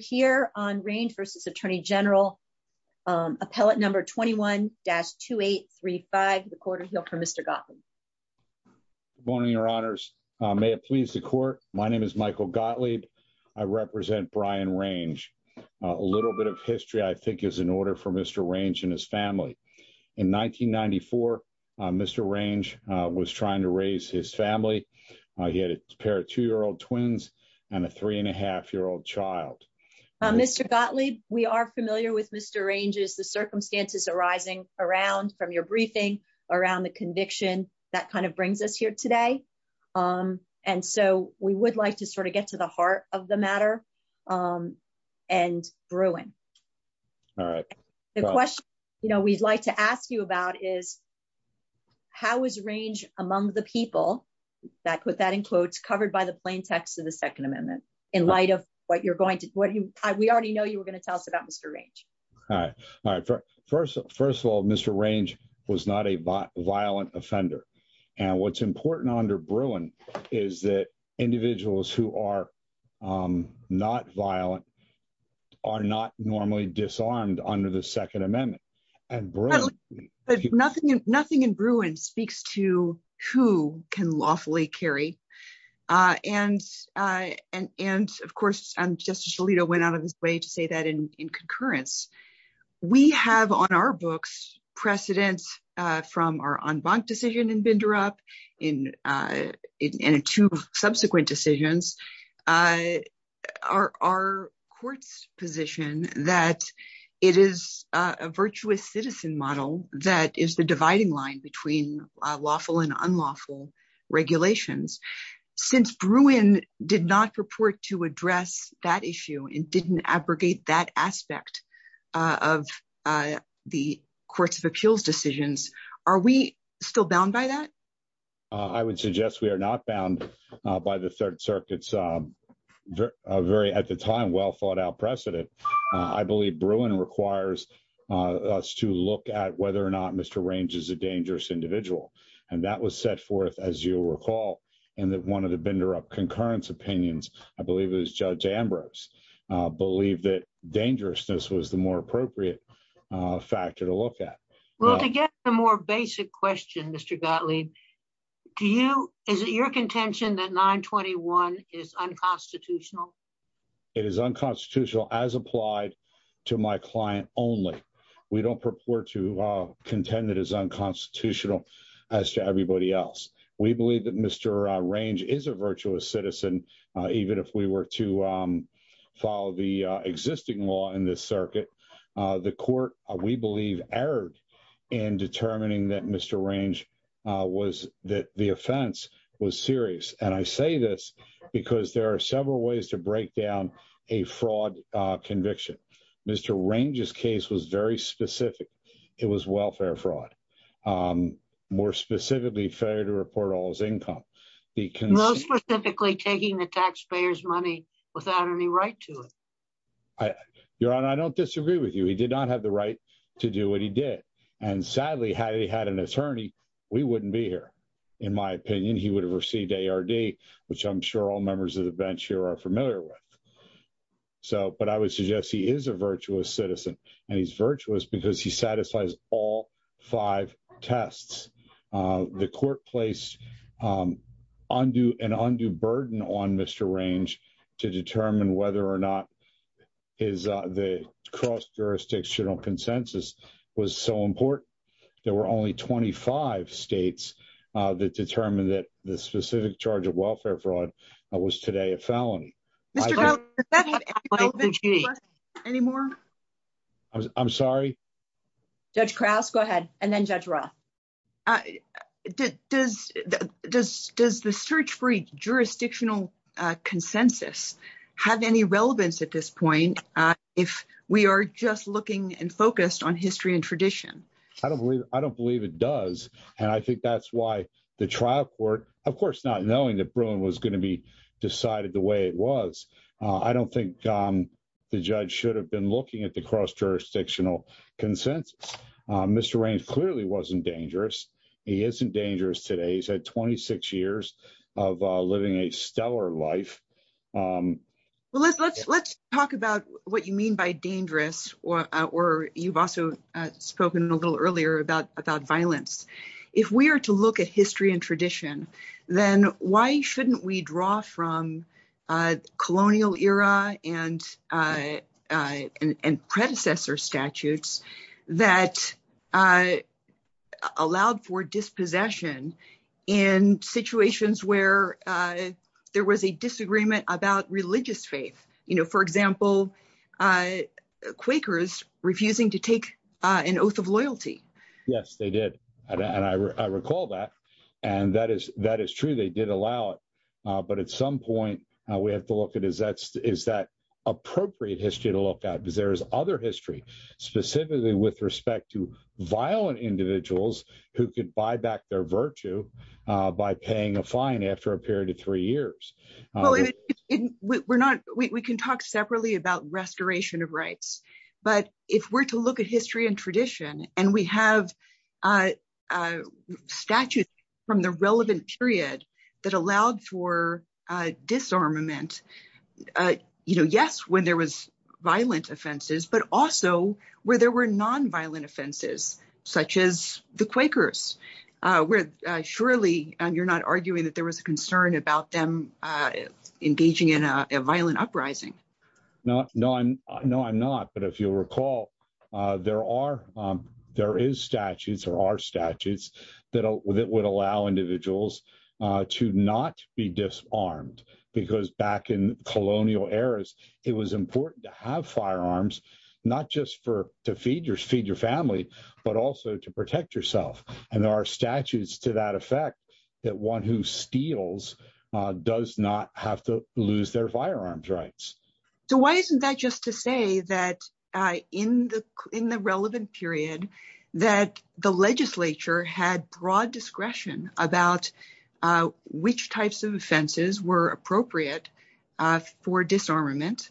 here on range versus atto number 21-2835. The cour Gottlieb. Morning. Your h the court. My name is Mic brian range. A little bit is in order for Mr Range He had a pair of two year and a 3.5 year old child. are familiar with Mr Range arising around from your conviction that kind of b Um And so we would like t the heart of the matter. question we'd like to ask was range among the peopl covered by the plain text in light of what you're g already know you were goi Mr Range. All right. First range was not a violent o important under Bruin is who are um not violent, a disarmed under the Second nothing. Nothing in Bruin who can lawfully carry. U of course, I'm just a lea to say that in concurrenc books precedents from our bender up in uh in a two Uh are our courts position citizen model that is the between lawful and unlawf Bruin did not report to a and didn't abrogate that of appeals decisions. Are that? I would suggest we the third circuits. Um, v well thought out preceden requires us to look at wh Mr Range is a dangerous i was set forth as you reca bender up concurrence opi Judge Ambrose believe tha the more appropriate fact to get the more basic que Do you, is it your conten unconstitutional? It is u as applied to my client o to contend that is uncons everybody else. We believ is a virtuous citizen. Ev follow the existing law i court, we believe erred i Mr Range was that the off I say this because there to break down a fraud conv Mr Range's case was very fraud. Um, more specifica all his income. He can mo the taxpayers money withou I, your honor, I don't di did not have the right to sadly how he had an attor be here. In my opinion, h A. R. D. Which I'm sure a here are familiar with. S a virtuous citizen and he he satisfies all five tes um, undo an undue burden to determine whether or n jurisdictional consensus were only 25 states that charge of welfare fraud w Mr. Jones, is that anythi I'm sorry, Judge Krause, ruff. Uh, does does does jurisdictional consensus at this point? If we are on history and tradition, it does. And I think that court, of course, not kno was going to be decided t don't think, um, the judg at the cross jurisdiction range clearly wasn't dang today. He's had 26 years life. Um, well, let's, le you mean by dangerous or a little earlier about vi If we are to look at hist why shouldn't we draw fro and uh, and predecessor s for dispossession in situ for example, uh, Quakers to take an oath of loyalt and I recall that and tha did allow it. But at some look at is that is that a to look at? Because there with respect to violent i buy back their virtue by a period of three years. we're not, we can talk se of rights. But if we're t and tradition and we have the relevant period that uh, you know, yes, when t offenses, but also where offenses such as the Quak you're not arguing that t them engaging in a violent I'm not. But if you recall is statutes or our statue allow individuals to not back in colonial eras, it firearms, not just for to family, but also to prote and our statutes to that steals does not have to l rights. So why isn't that in the in the relevant pe had broad discretion abou offenses were appropriate that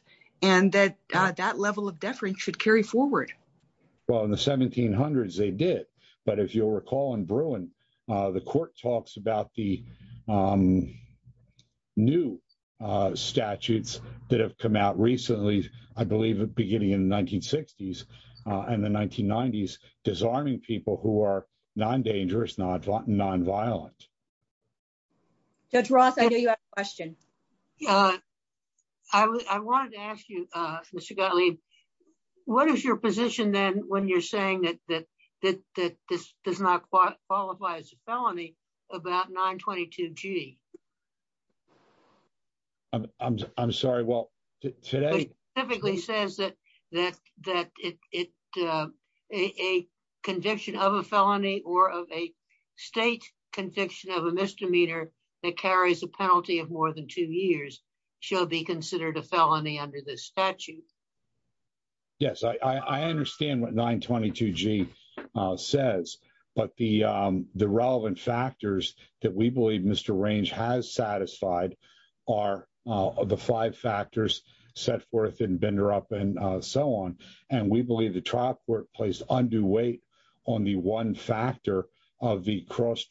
that level of deferen Well, in the 1700s they d in Bruin, the court talke uh, statutes that have co beginning in the 19 sixti disarming people who are violent. That's roth. I k Uh, I wanted to ask you, what is your position the that that this does not q about 9 22 G. I'm sorry. says that that that it, u of a felony or of a state misdemeanor that carries than two years shall be c this statute. Yes, I unde says, but the relevant fa Mr Range has satisfied ar set forth in bender up an believe the trial workpla the one factor of the cros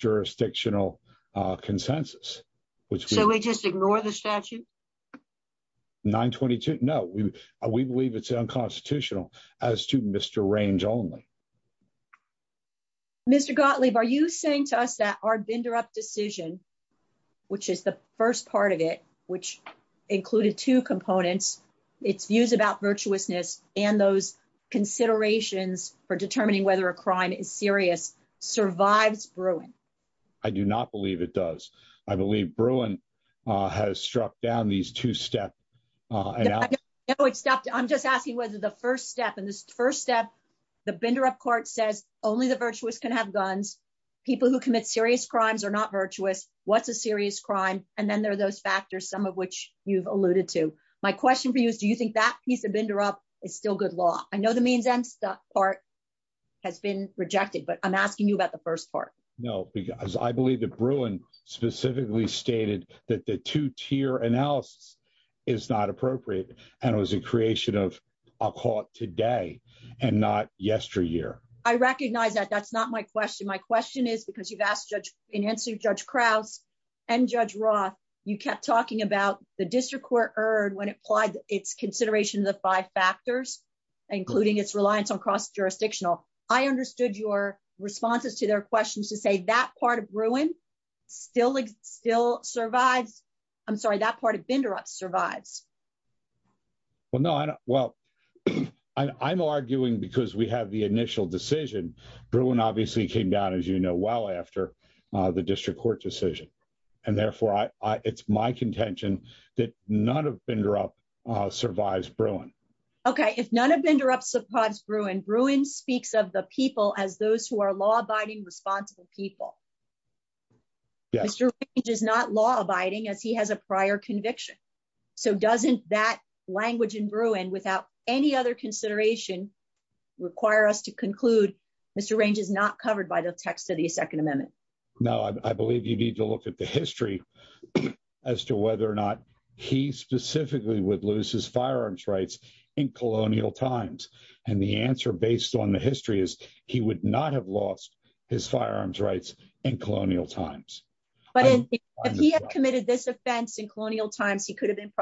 consensus. So we just ign the statute 9 22. No, we unconstitutional as to Mr Gottlieb. Are you saying up decision, which is the which included two compon virtuousness and those co determining whether a cri Bruin. I do not believe i uh, has struck down these it stopped. I'm just aski step in this first step, said only the virtuous ca who commit serious crimes What's a serious crime? A factors, some of which yo question for you. Do you bender up? It's still goo mean them part has been r asking you about the firs I believe the Bruin specif the two tier analysis is and it was a creation of not yesteryear. I recogni my question. My question asked Judge in answer, Ju Roth, you kept talking ab heard when it applied its of five factors, includin cross jurisdictional. I u responses to their questio of Bruin building still s that part of bender up s well, I'm arguing because decision. Bruin obviously know well after the distr and therefore it's my con of bender up survives Bru of interrupts the pods, B the people as those who a of people. Mr. Range is n he has a prior conviction in Bruin without any othe us to conclude Mr Range i this text of the Second A you need to look at the h or not he specifically wo rights in colonial times. based on the history is h his firearms rights in co if he has committed this times, he could have been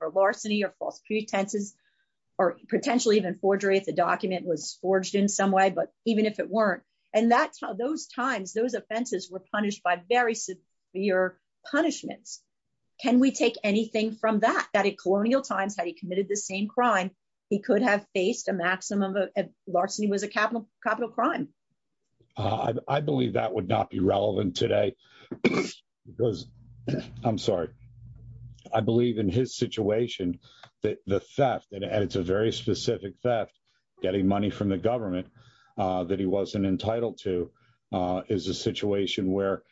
or false pretenses or pot the document was forged i if it weren't and that's were punished by very sec we take anything from tha times had he committed th he could have faced a ma capital capital crime. I not be relevant today bec I believe in his situatio and it's a very specific from the government uh th to uh is a situation where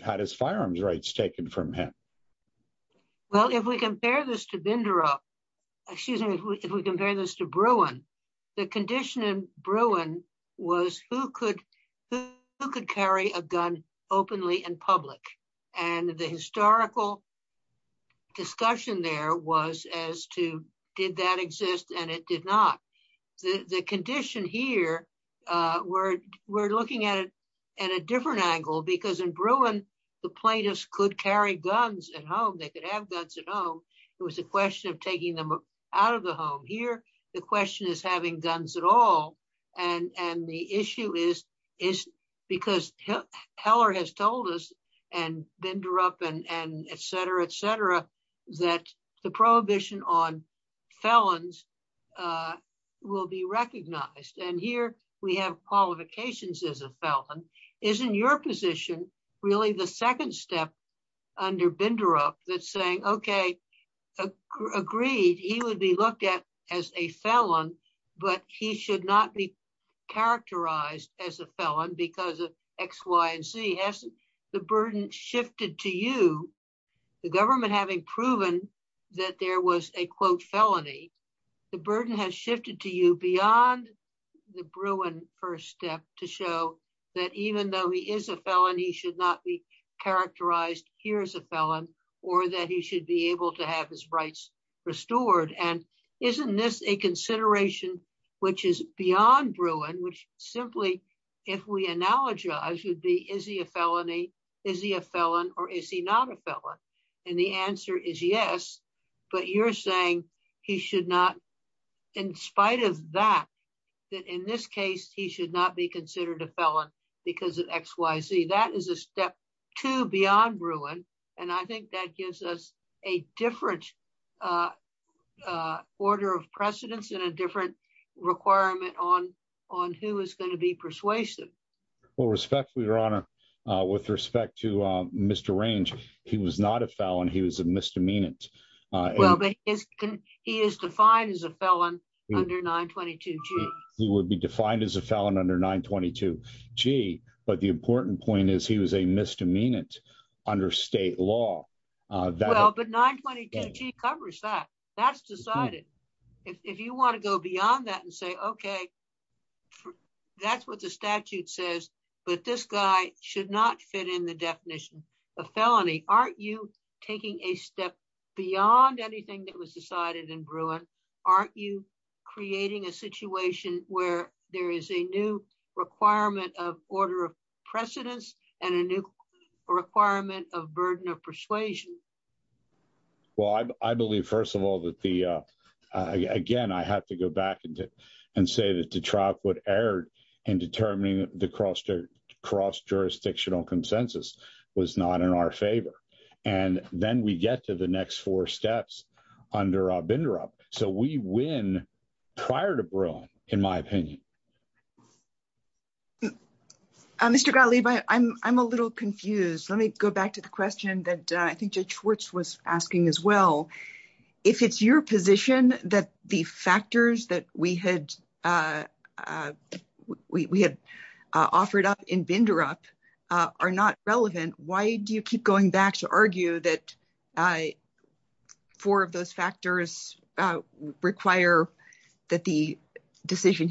had his firearms rights t Well, if we compare this if we compare this to Bru in Bruin was who could wh gun openly in public and there was as to did that not the condition here. U at it at a different angle the plaintiffs could carr they could have guns at h of taking them out of the is having guns at all. An is because teller has tol and et cetera, et cetera, on felons uh will be reco we have qualifications as in your position really t bender up that's saying o be looked at as a felon b characterized as a felon hasn't the burden shifted having proven that there the burden has shifted to first step to show that e felon, he should not be c a felon or that he should rights restored. And isn' which is beyond Bruin, wh analogy, I should be, is a felon or is he not a fe is yes, but you're saying should not, in spite of t he should not be consider of X, Y, Z. That is a ste And I think that gives us of precedence in a differ who is going to be persua your honor with respect t was not a felon. He was a he is defined as a felon be defined as a felon und important point is he was state law. Uh, but 9 22 g decided if you want to go Okay, that's what the stat but this guy should not f a felony. Aren't you taki anything that was decided you creating a situation requirement of order of p requirement of burden of I believe, first of all, I have to go back and say erred and determine the c consensus was not in our we get to the next four s So we win prior to brown. Mr Gottlieb, I'm, I'm a l go back to the question t was asking as well. If it that the factors that we up in bender up are not r keep going back to argue factors require that the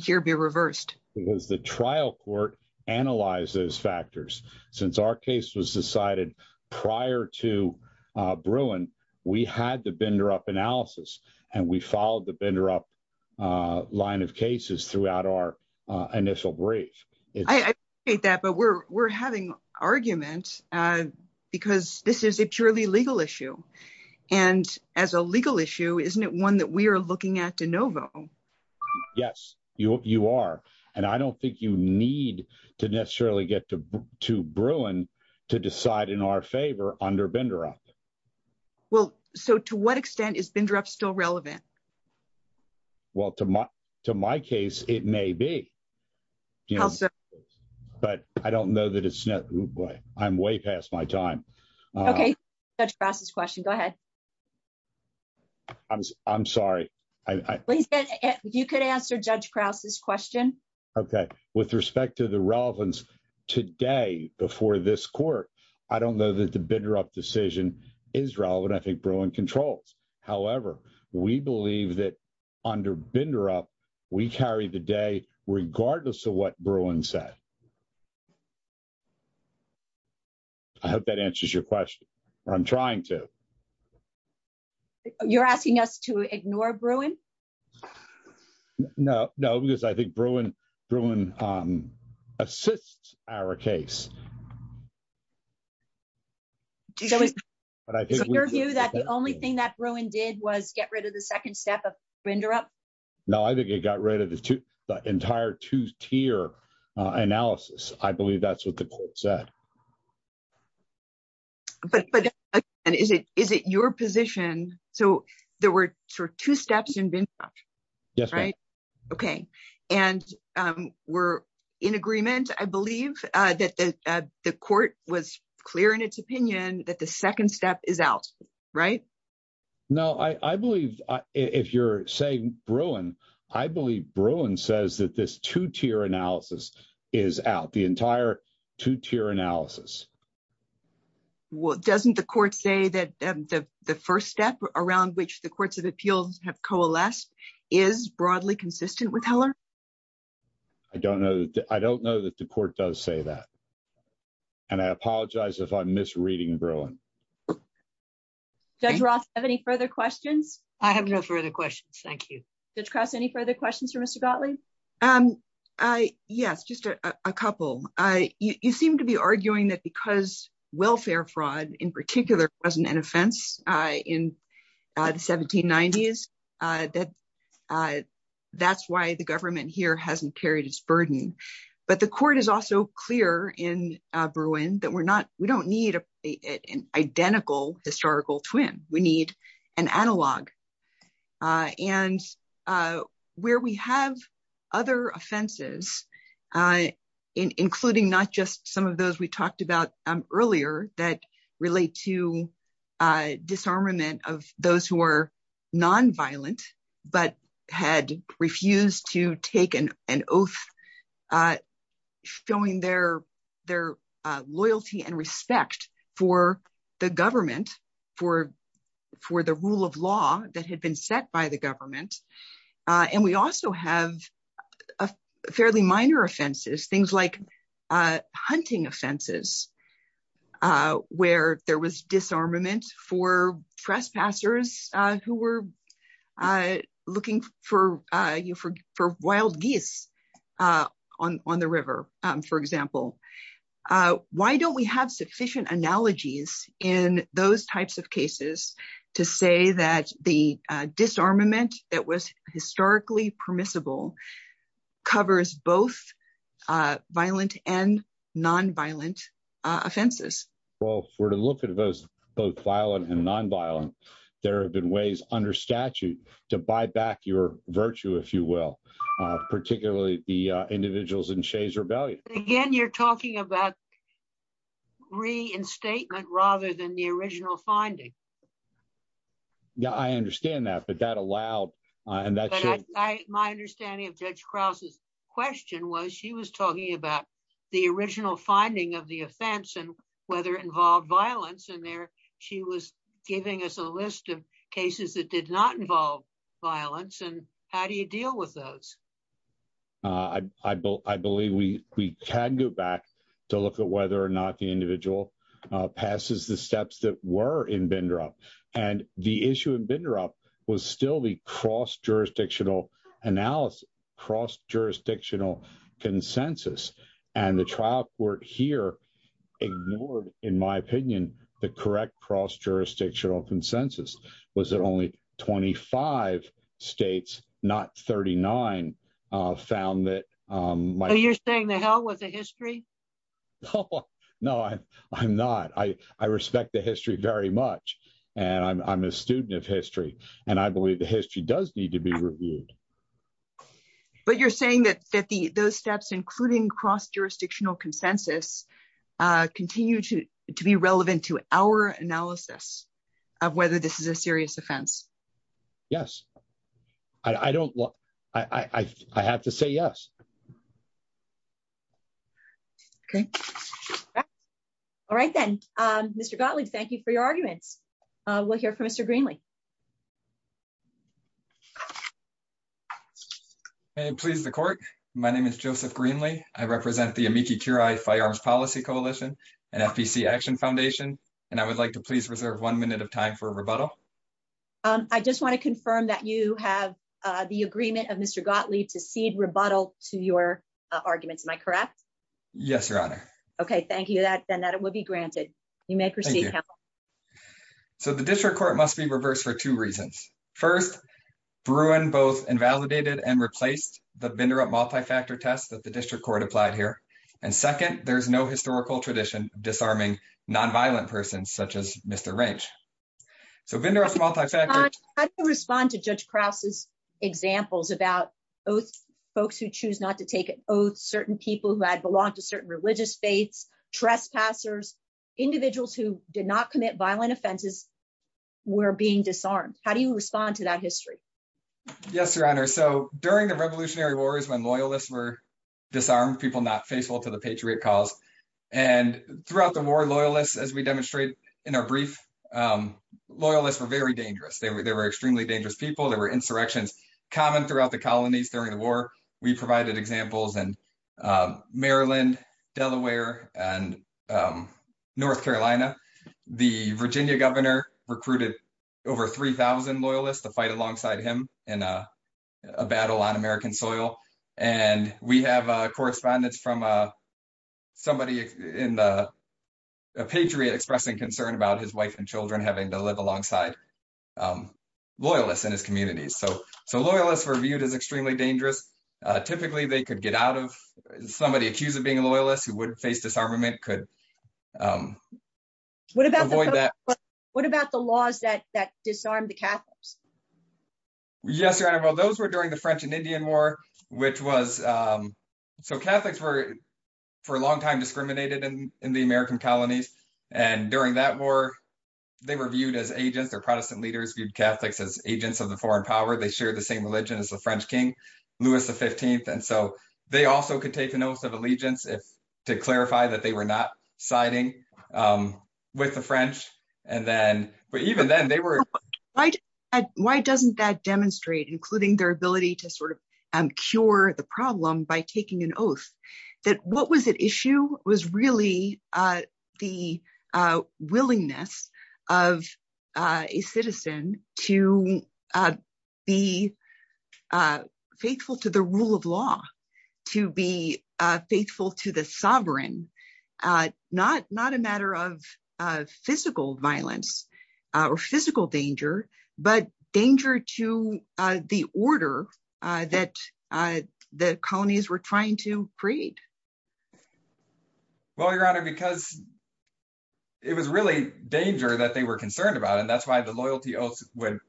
reversed because the trial factors. Since our case w prior to Bruin, we had to and we followed the bender throughout our initial br but we're, we're having a this is a purely legal is issue, isn't it one that Novo? Yes, you are. And I need to necessarily get t in our favor under bender extent is bender up still to my case, it may be, bu it's not. Oh boy, I'm way Crouch's question. Go ahe I, I, you could answer Ju Okay. With respect to the today before this court, bender up decision is rel controls. However, we bel up, we carry the day rega said. I hope that answers trying to, you're asking us to ignore Bruin? No, n Bruin, Bruin, um, assists your view that the only t was get rid of the second No, I think it got rid of tier analysis. I believe said. But is it, is it yo there were sort of two st Right. Okay. And um, we'r that the court was clear the second step is out. R if you're saying Bruin, I that this two tier analysi two tier analysis. Well, say that the first step a of appeals have coalesced repeller? I don't know. I the court does say that. I'm misreading Berlin. Dr questions. I have no furt you discuss any further q Um, yes, just a couple. Y that because welfare frau wasn't an offense in the why the government here h But the court is also cle we're not, we don't need twin. We need an analog. have other offenses, uh, not just some of those we that relate to uh, disarm nonviolent, but had refus oath, uh, showing their t for the government, for f that had been set by the uh, and we also have a fa things like, uh, hunting there was disarmament for were, uh, looking for, uh geese, uh, on, on the riv Why don't we have suffici those types of cases to s it was historically permi violent and nonviolent of to look at those both vio there have been ways unde your virtue, if you will, and shades rebellion. Aga about reinstatement rather original finding. Yeah, I that allow. And that's my Krause's question was she the original finding of t involved violence in there a list of cases that did And how do you deal with we, we can go back to loo the individual, uh, passe in bender up and the issu the cross jurisdictional consensus and the trial c in my opinion, the correc consensus was that only 2 uh, found that, um, you'r a history? No, I'm not. I very much. And I'm a stud believe the history does But you're saying that th cross jurisdictional cons relevant to our analysis Okay. All right then. Um you for your argument. We Greenlee. Okay, please. T is joseph Greenlee. I rep firearms policy coalition and I would like to pleas of time for a rebuttal. U that you have the agreeme Mr Gottlieb to feed rebut Am I correct? Yes, Your H that, then that it will b proceed. So the district for two reasons. First, B and replaced the vendor up that the district court a nonviolent persons such a vendor of multifaceted. H as examples about folks w take an oath. Certain peo certain religious faiths, who did not commit violen being disarmed. How do yo history? Yes, Your Honor. wars when loyalists were faithful to the patriot c the war loyalists as we d um, loyalists were very d there were extremely dang insurrections common throu during the war. We provid Maryland, Delaware and N Virginia governor recruit to fight alongside him in soil. And we have a corr somebody in the Patriot e about his wife and Childr um, loyalist in his commu were viewed as extremely they could get out of som being loyalists who would could um, what about the that that disarmed the Ca Well, those were during t war, which was um, so Cat time discriminated in the And during that war, they as agents or protestant l as agents of the foreign same religion as the Fren 15th. And so they also co allegiance to clarify tha um, with the French. And they were like, why doesn including their ability t the problem by taking an what was at issue was rea of a citizen to be uh, fa law, to be faithful to the a matter of physical viol danger, but danger to uh, uh, the colonies were try your honor, because it wa they were concerned about oath would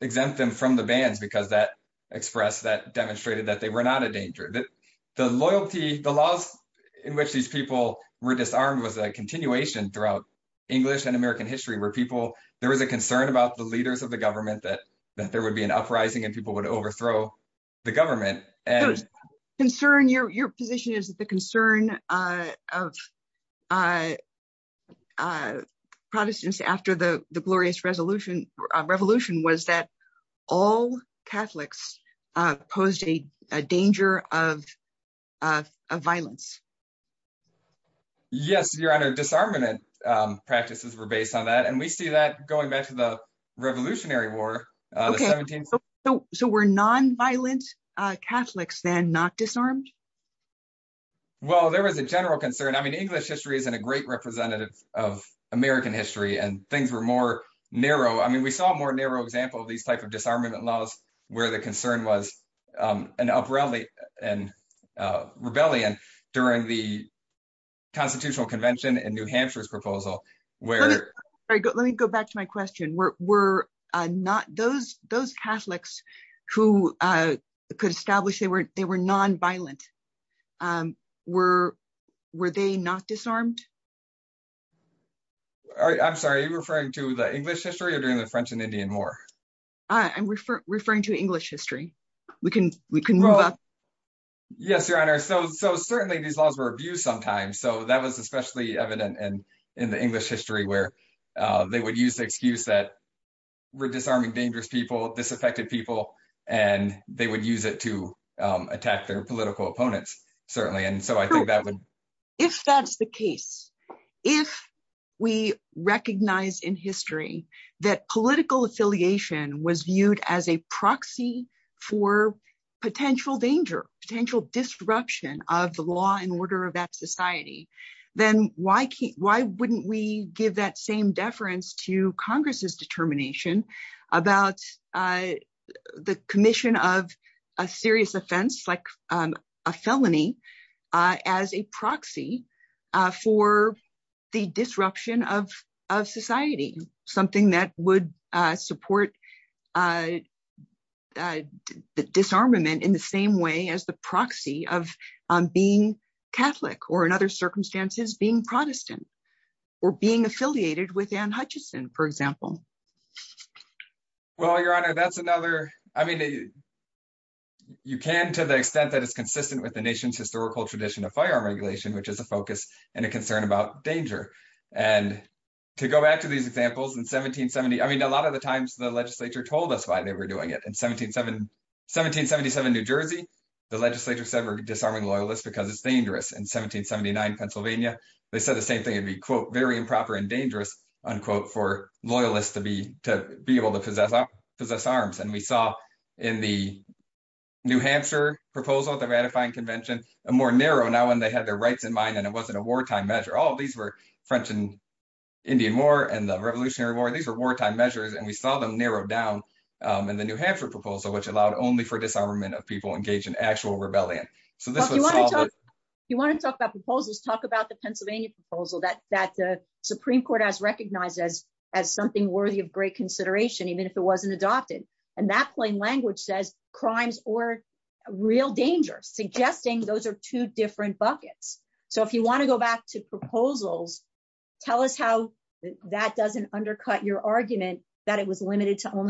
exempt them fr that express that demonst not a danger that the loy these people were disarm throughout english and am people, there was a conce of the government that th and people would overthrow and concern your your pos uh, uh, uh, protestants a resolution revolution was posed a danger of, uh, vi under disarmament. Um, pr on that. And we see that Revolutionary War. So we' stand not disarmed? Well, concern. I mean, english representative of america were more narrow. I mean, example of these type of the concern was um, an up during the Constitutional proposal where, let me go were, were not those, tho uh, could establish, they Um, were, were they not d sorry, referring to the e the french and indian war to english history. We ca Yes, your honor. So, so c abuse sometimes. So that especially evident and in where they would use the disarming, dangerous peop and they would use it to opponents certainly. And the case, if we recognize affiliation was viewed as danger, potential disrupt order of that society, th we give that same deferen determination about, uh, a serious offense, like u proxy for the disruption that would support uh, di way as the proxy of being circumstances being prote with an Hutchinson, for e honor. That's another, I the extent that it's cons historical tradition of f which is a focus and a co and to go back to these e I mean, a lot of the time told us why they were doi 77 New Jersey, the legisl loyalists because it's da Pennsylvania. They said t quote, very improper and loyalists to be, to be ab arms. And we saw in the N the ratifying convention when they had their right it wasn't a wartime measu and indian war and the re wartime measures and we s down. Um, and the new Han allowed only for disarmam in actual rebellion. So t to talk about proposals, proposal that that the Su as, as something worthy o even if it wasn't adopted says crimes or real dange are two different buckets to go back to proposals, tell us how that doesn't that it was limited to on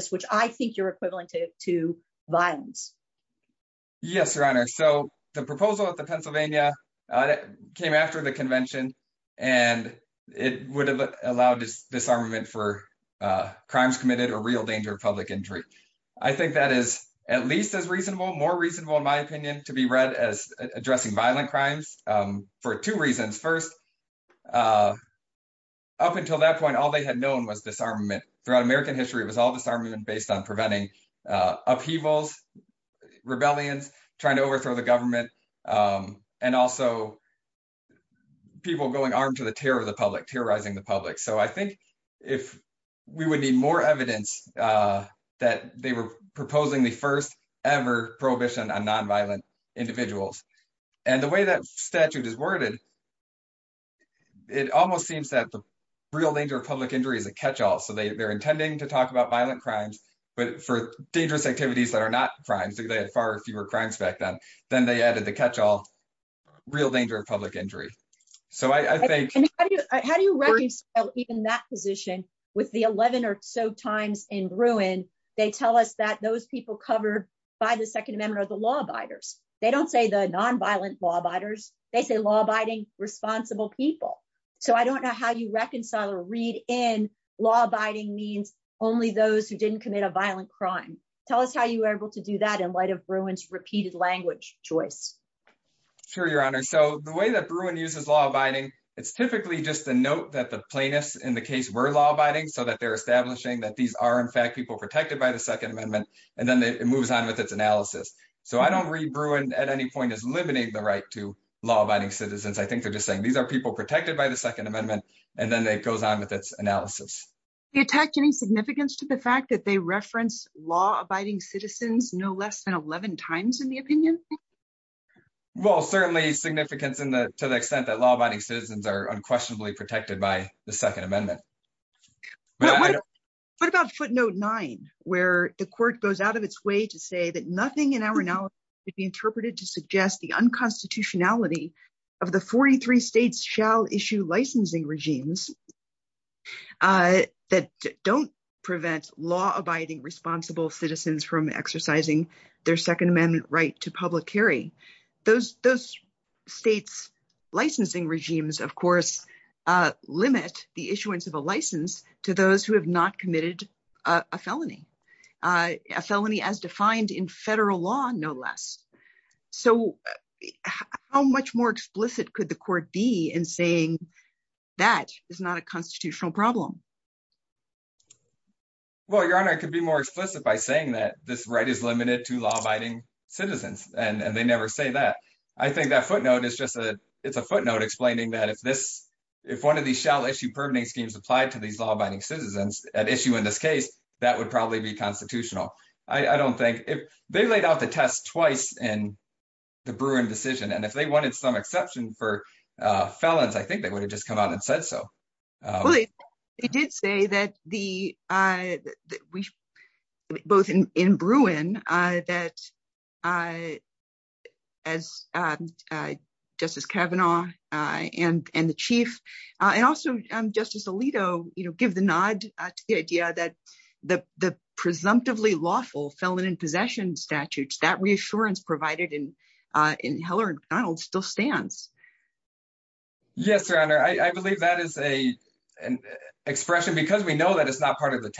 which I think you're equi Yes, your honor. So the p uh, came after the conven have allowed this disarma or real danger of public that is at least as reaso in my opinion to be read crimes. Um, for two reaso that point, all they had throughout american histor based on preventing, uh, trying to overthrow the g people going on to the te the public. So I think if evidence, uh, that they w first ever prohibition on and the way that statute almost seems that the rea is a catch all. So they'r about violent crimes, but that are not crime. So th crimes back then. Then th real danger of public inj you raise even that positi or so times in ruin, they people covered by the Sec the law abiders. They don law abiders. They say law people. So I don't know h read in law abiding means commit a violent crime. T able to do that in light choice. Sure, your honor. uses law abiding, it's ty that the plaintiffs in th so that they're establish in fact people protected by the Second Amendment a on with its analysis. So at any point is limiting citizens. I think they're are people protected by t and then it goes on with any significance to the f law abiding citizens no l the opinion? Well, certai to the extent that law ab unquestionably protected by the Second Amendment. nine where the court goes say that nothing in our n to suggest the unconstitu 43 states shall issue lic don't prevent law abiding from exercising their Sec to public hearing. Those states licensing regimes the issuance of a license committed a felony. Uh, a in federal law, no less. could the court be in say constitutional problem? We be more explicit by saying limited to law abiding ci they never say that. I th is just a, it's a footnot if this, if one of these schemes applied to these an issue in this case, th be constitutional. I don' laid out the test twice i And if they wanted some e I think they would have j said so. Well, they did s we, uh, we both in Bruin, Kavanaugh, uh, and, and t Alito, you know, give the the, the presumptively la statutes that reassurance Heller and Donald still s I believe that is a expre that it's not part of the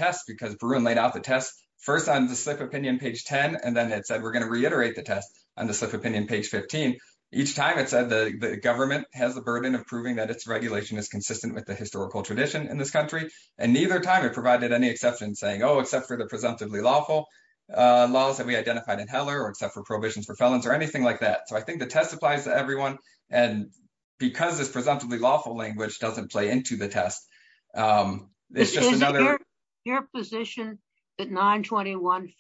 laid out the test first o page 10 and then it said, the test on the swift opi time it said the governme of proving that it's regu with the historical tradi And neither time it provi saying, oh, except for th uh, laws that we identifi except for prohibitions f like that. So I think the everyone and because of t lawful language doesn't p Um, it's just another pos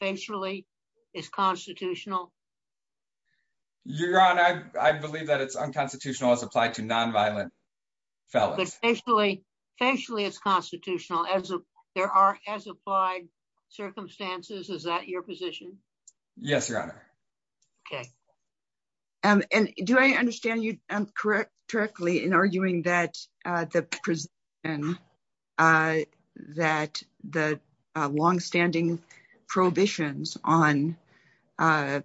facially is constitutional that it's unconstitutional nonviolent fellows, facia constitutional as there a Is that your position? Ye And do I understand you c that, uh, that, uh, long on, uh,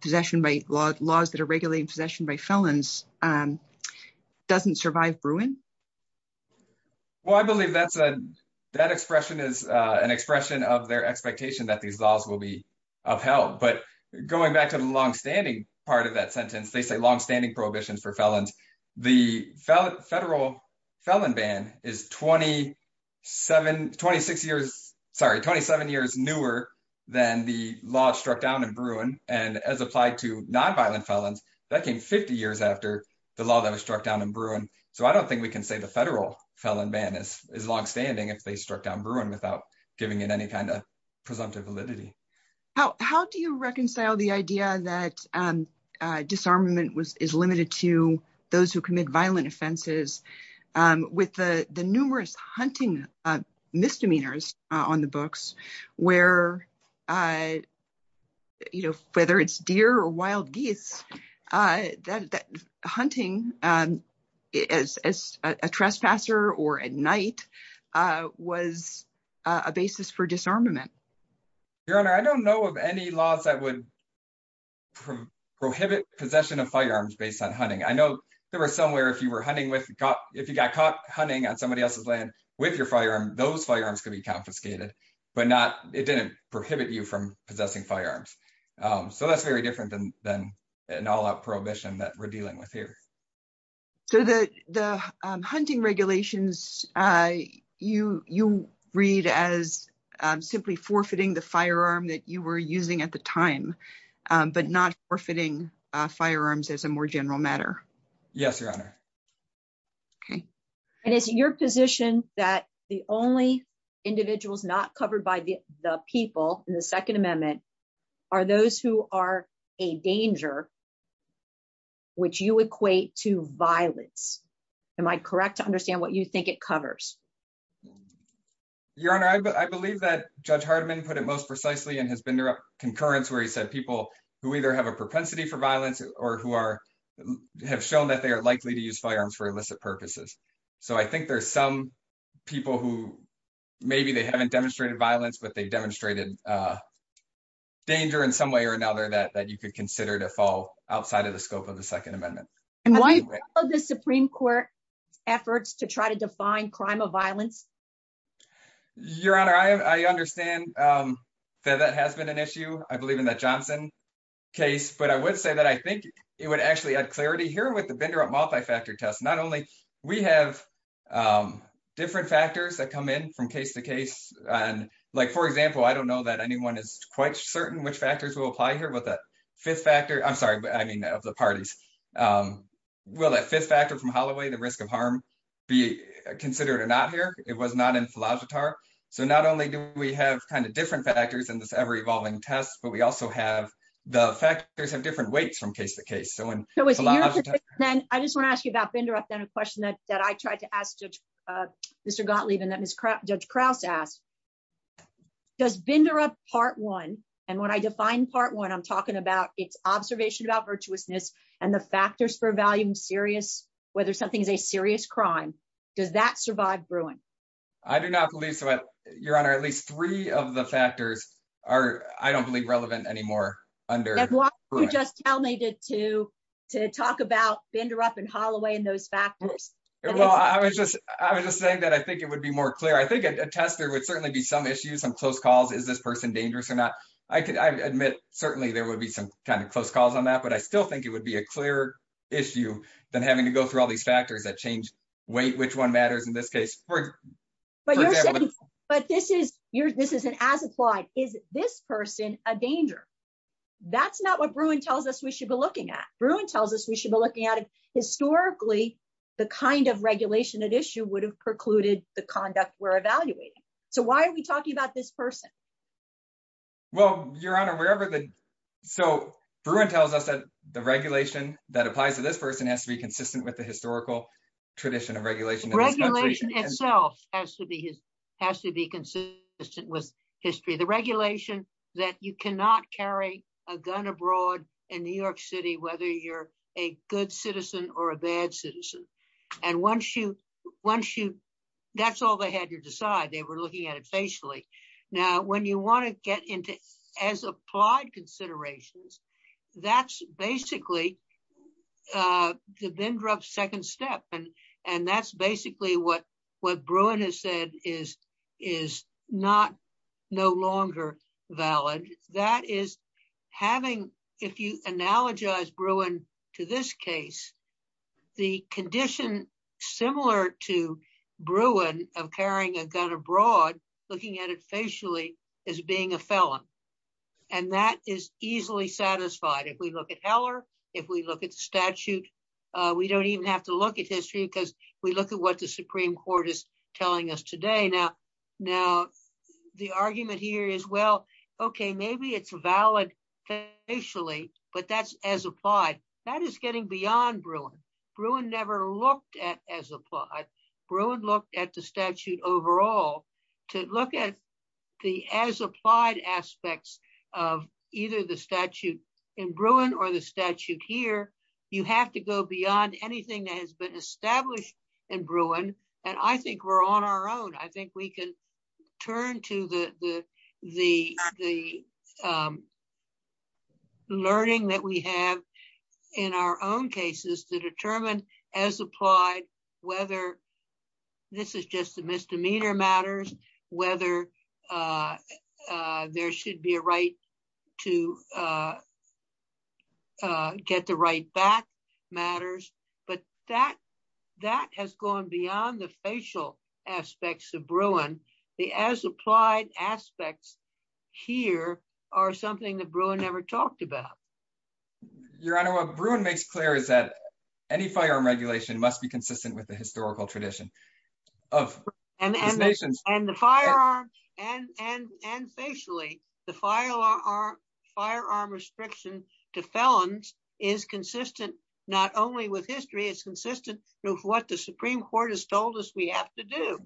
possession by la possession by felons, um, ruin? Well, I believe tha is an expression of their laws will be upheld. But longstanding part of that longstanding prohibition for felons. The federal f 27, 26 years, sorry, 27 y the law struck down and b to nonviolent felons. Tha the law that was struck d I don't think we can say ban is longstanding if th without giving it any kin How, how do you reconcile that, um, disarmament is who commit violent offens hunting misdemeanors on t uh, you know, whether it' uh, that hunting, um, as at night, uh, was a basis disarmament. Your honor. laws that would prohibit based on hunting. I know you were hunting with, if on somebody else's land w those firearms could be c it didn't prohibit you fr Um, so that's very differ prohibition that we're de So the, the hunting regula read as simply forfeiting were using at the time, u firearms as a more genera your honor. Okay. And it' the only individuals not in the second amendment ar a danger which you equate I'm correct to understand covers? Your honor. I bel put it most precisely and where he said people who for violence or who are h are likely to use firearms So I think there's some p they haven't demonstrated they demonstrated, uh, da or another that you could of the scope of the Second of the Supreme Court effor crime of violence. Your h um, that that has been an that johnson case. But I think it would actually a with the vendor of multif only we have, um, differe from case to case. And li don't know that anyone is factors will apply here w I'm sorry, but I mean of that fifth factor from ho harm be considered or not philosophy. So not only d different factors in this but we also have the fact weights from case to case want to ask you about fin that I tried to ask Mr Go and it's crap. Judge krau part one. And when I defi about its observation abo the factors for value and something is a serious cr brewing? I do not believe at least three of the fac relevant anymore under wh to to talk about vendor u those factors. Well, I wa it would be more clear. I would certainly be some i calls. Is this person dang I admit certainly there w close calls on that. But be a clearer issue than h all these factors that ch matters in this case. But is an as applied. Is this not what Bruin tells us w at. Bruin tells us we sho historically the kind of would have precluded the So why are we talking abo your honor wherever. So B the regulation that applie has to be consistent with of regulation itself has be consistent with histor that you cannot carry a g York City, whether you're or a bad citizen. And onc all they had to decide. T it facially. Now when you applied considerations, t the vendor of second step what what Bruin has said no longer valid. That is if you analogize Bruin to similar to Bruin of carry at it facially as being a is easily satisfied. If w look at statute, we don't at history because we look court is telling us today Now the argument here is valid facially, but that' is getting beyond Bruin. at as applied. Bruin look overall to look at the as of either the statute in has been established in B we're on our own. I think the, the, the, um, learni our own cases to determi whether this is just a mi whether, uh, there should uh, uh, get the right bac But that, that has gone b aspects of Bruin. The as here are something that B about. Your honor. What B is that any firearm regula with the historical tradi and the firearm and, and, firearm, firearm restrict is consistent not only wi through what the Supreme we have to do.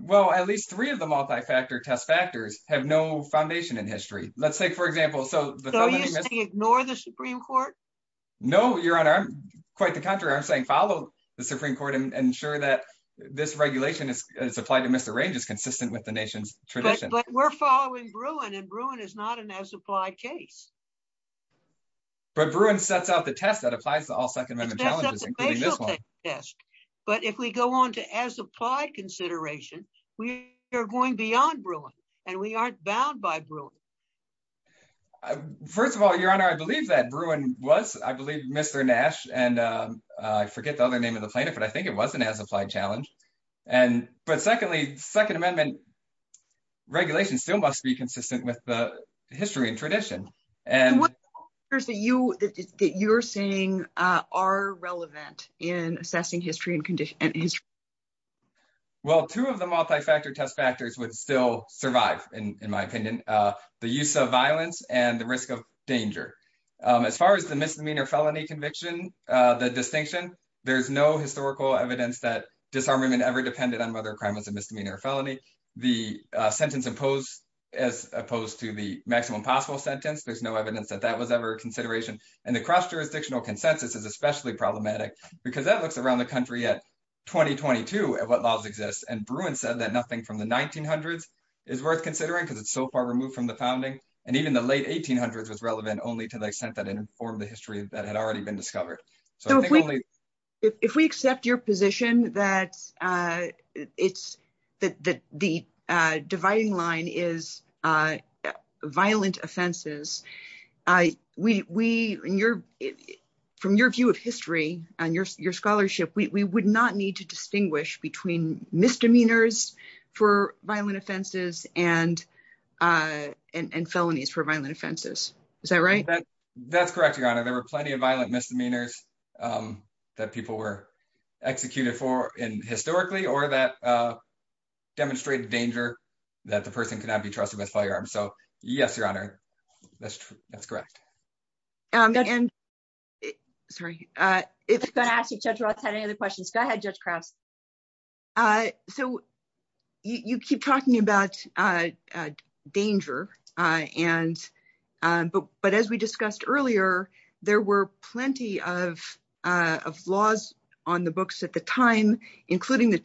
Well, at l multi factor test factors in history. Let's say for you ignore the Supreme Co quite the contrary. I'm s court and ensure that thi to misarrange is consiste tradition, but we're foll and Bruin is not an as app sets out the test that ap challenges. Yes. But if w consideration, we are goi we aren't bound by Bruin. honor. I believe that Bru Mr Nash and I forget the plaintiff, but I think it challenge. And but second second amendment regulatio with the history and trad you that you're saying ar history and condition. Wel test factors would still uh, the use of violence a Um, as far as the misdeme uh, the distinction, ther evidence that disarmament ever depended on another or felony. The sentence i to the maximum possible s evidence that that was ev the cross jurisdictional problematic because that at 2022 at what laws exis that nothing from the 190 because it's so far remov and even the late 1800s w to the extent that infor that had already been dis So if we, if we accept yo it's that the dividing li offenses. Uh, we, we, you of history and your, your would not need to distingu for violent offenses and, violent offenses. Is that correct? Your honor, there misdemeanors, um, that pe for historically or that, that the person cannot be So, yes, your honor, that' and sorry, uh, it's been any other questions? Go a So you keep talking about uh, danger. Uh, and, uh, b earlier, there were plent books at the time, includ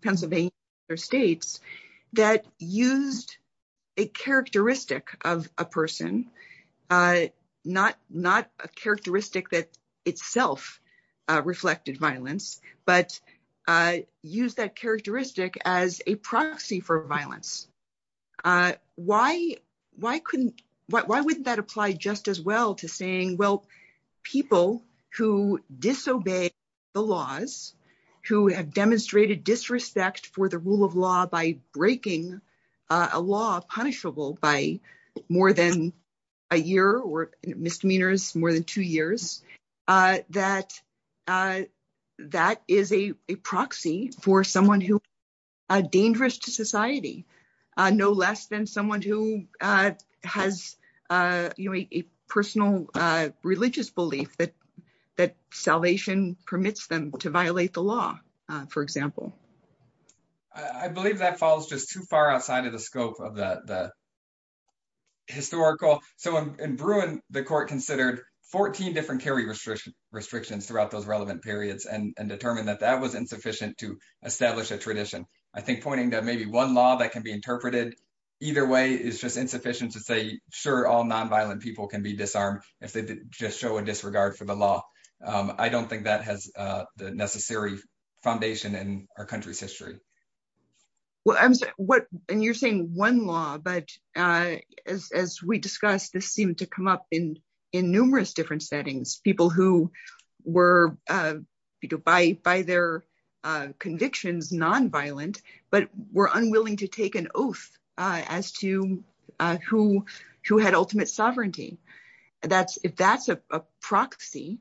Pennsylvania or states th of a person. Uh, not, not that itself reflected vil that characteristic as a Why, why couldn't, why, w just as well to saying, w disobey the laws, who hav for the rule of law by br by more than a year or mi than two years. Uh, that for someone who are dange less than someone who has religious belief that, th them to violate the law. that follows just too far of that, that historical. in Bruin, the court consi carry restrictions, restr periods and determined th to establish a tradition. maybe one law that can be way is just insufficient people can be disarmed if disregard for the law. Um has the necessary foundat history. Well, I'm what y one law, but uh, as we di to come up in, in numerou people who were, uh, by t nonviolent, but were unwil as to, uh, who, who had u that's, if that's a proxi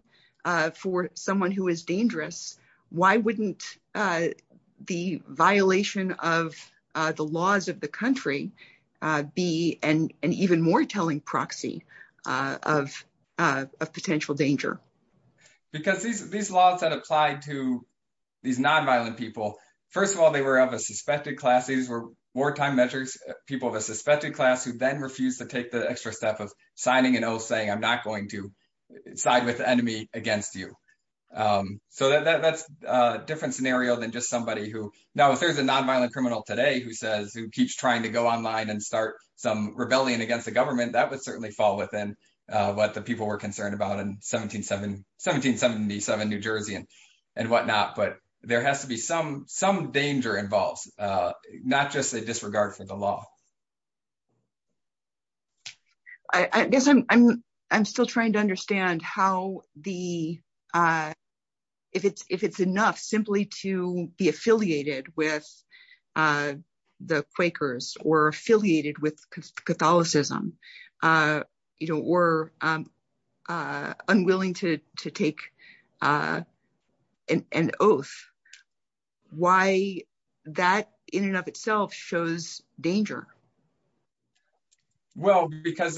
is dangerous, why wouldn' the violation of the laws be an even more telling p danger because these laws these nonviolent people. of a suspected class. Thes people of a suspected cla to take the extra step of I'm not going to side wit against you. Um, so that' than just somebody who no criminal today who says w go online and start some government, that would ce what the people were conc 1777 New Jersey and and w has to be some, some dang a disregard for the law. I guess I'm, I'm, I'm sti how the, uh, if it's, if be affiliated with, uh, t with Catholicism, uh, you to, to take, uh, an oath why that in and of itself because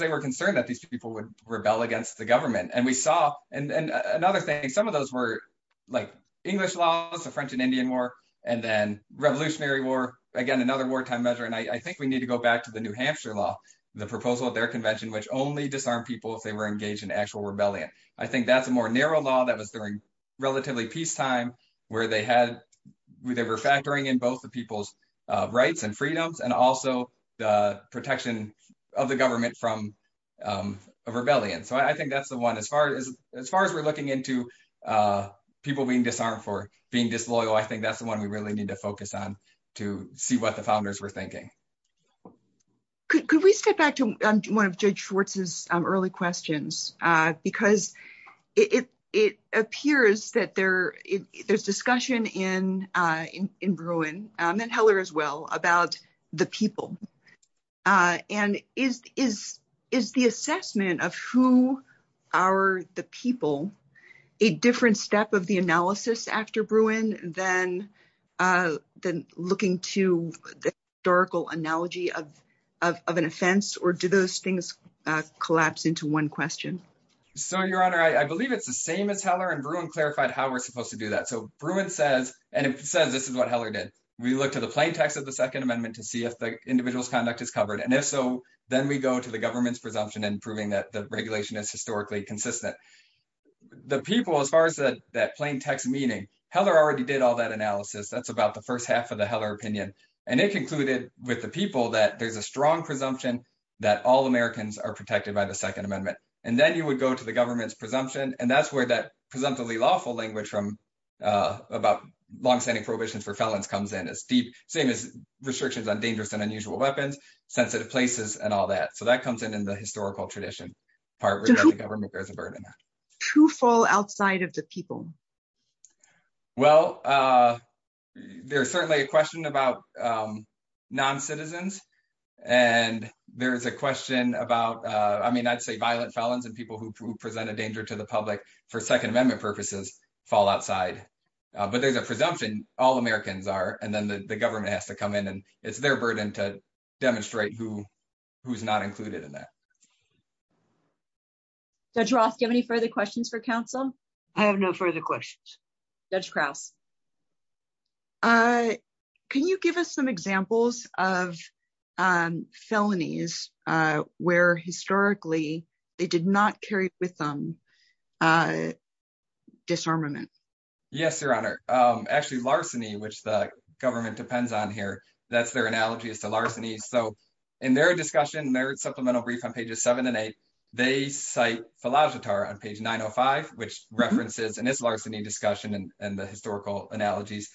they were concern would rebel against the g and another thing, some o laws, the french and indi war again, another wartim we need to go back to the proposal of their convenc people if they were engage I think that's a more nar relatively peacetime wher were factoring in both th and freedoms and also the from, um, a rebellion. So one, as far as, as far as uh, people being disarme I think that's the one we on to see what the founde Could we step back to one early questions? Uh, beca that there, there's discu and heller as well about is, is, is the assessment people a different step o Bruin than, uh, looking t analogy of, of, of an off things collapse into one honor. I believe it's the and Bruin clarified how w that. So Bruin said, and what heller did. We look of the second amendment t conduct is covered. And i go to the government's pr that the regulation is hi The people, as far as tha heller already did all th about the first half of t And it concluded with the a strong presumption that by the second amendment. go to the government's pr where that presumptively from, uh, about longstan for felons comes in as de on dangerous and unusual places and all that. So t historical tradition. Par there's a burden. True fa of people? Well, uh, ther about, um, non citizens a about, uh, I mean, I'd sa and people who present a for second amendment purp But there's a presumption and then the government h it's their burden to demi not included in that. Dr for counsel? I have no fu Kraus. Uh, can you give u of, um, felonies? Uh, whe they did not carry with t Yes, Your Honor. Um, actu the government depends on analogies to larceny. So merit supplemental brief pages seven and eight. Th on page 905, which referen discussion and the histor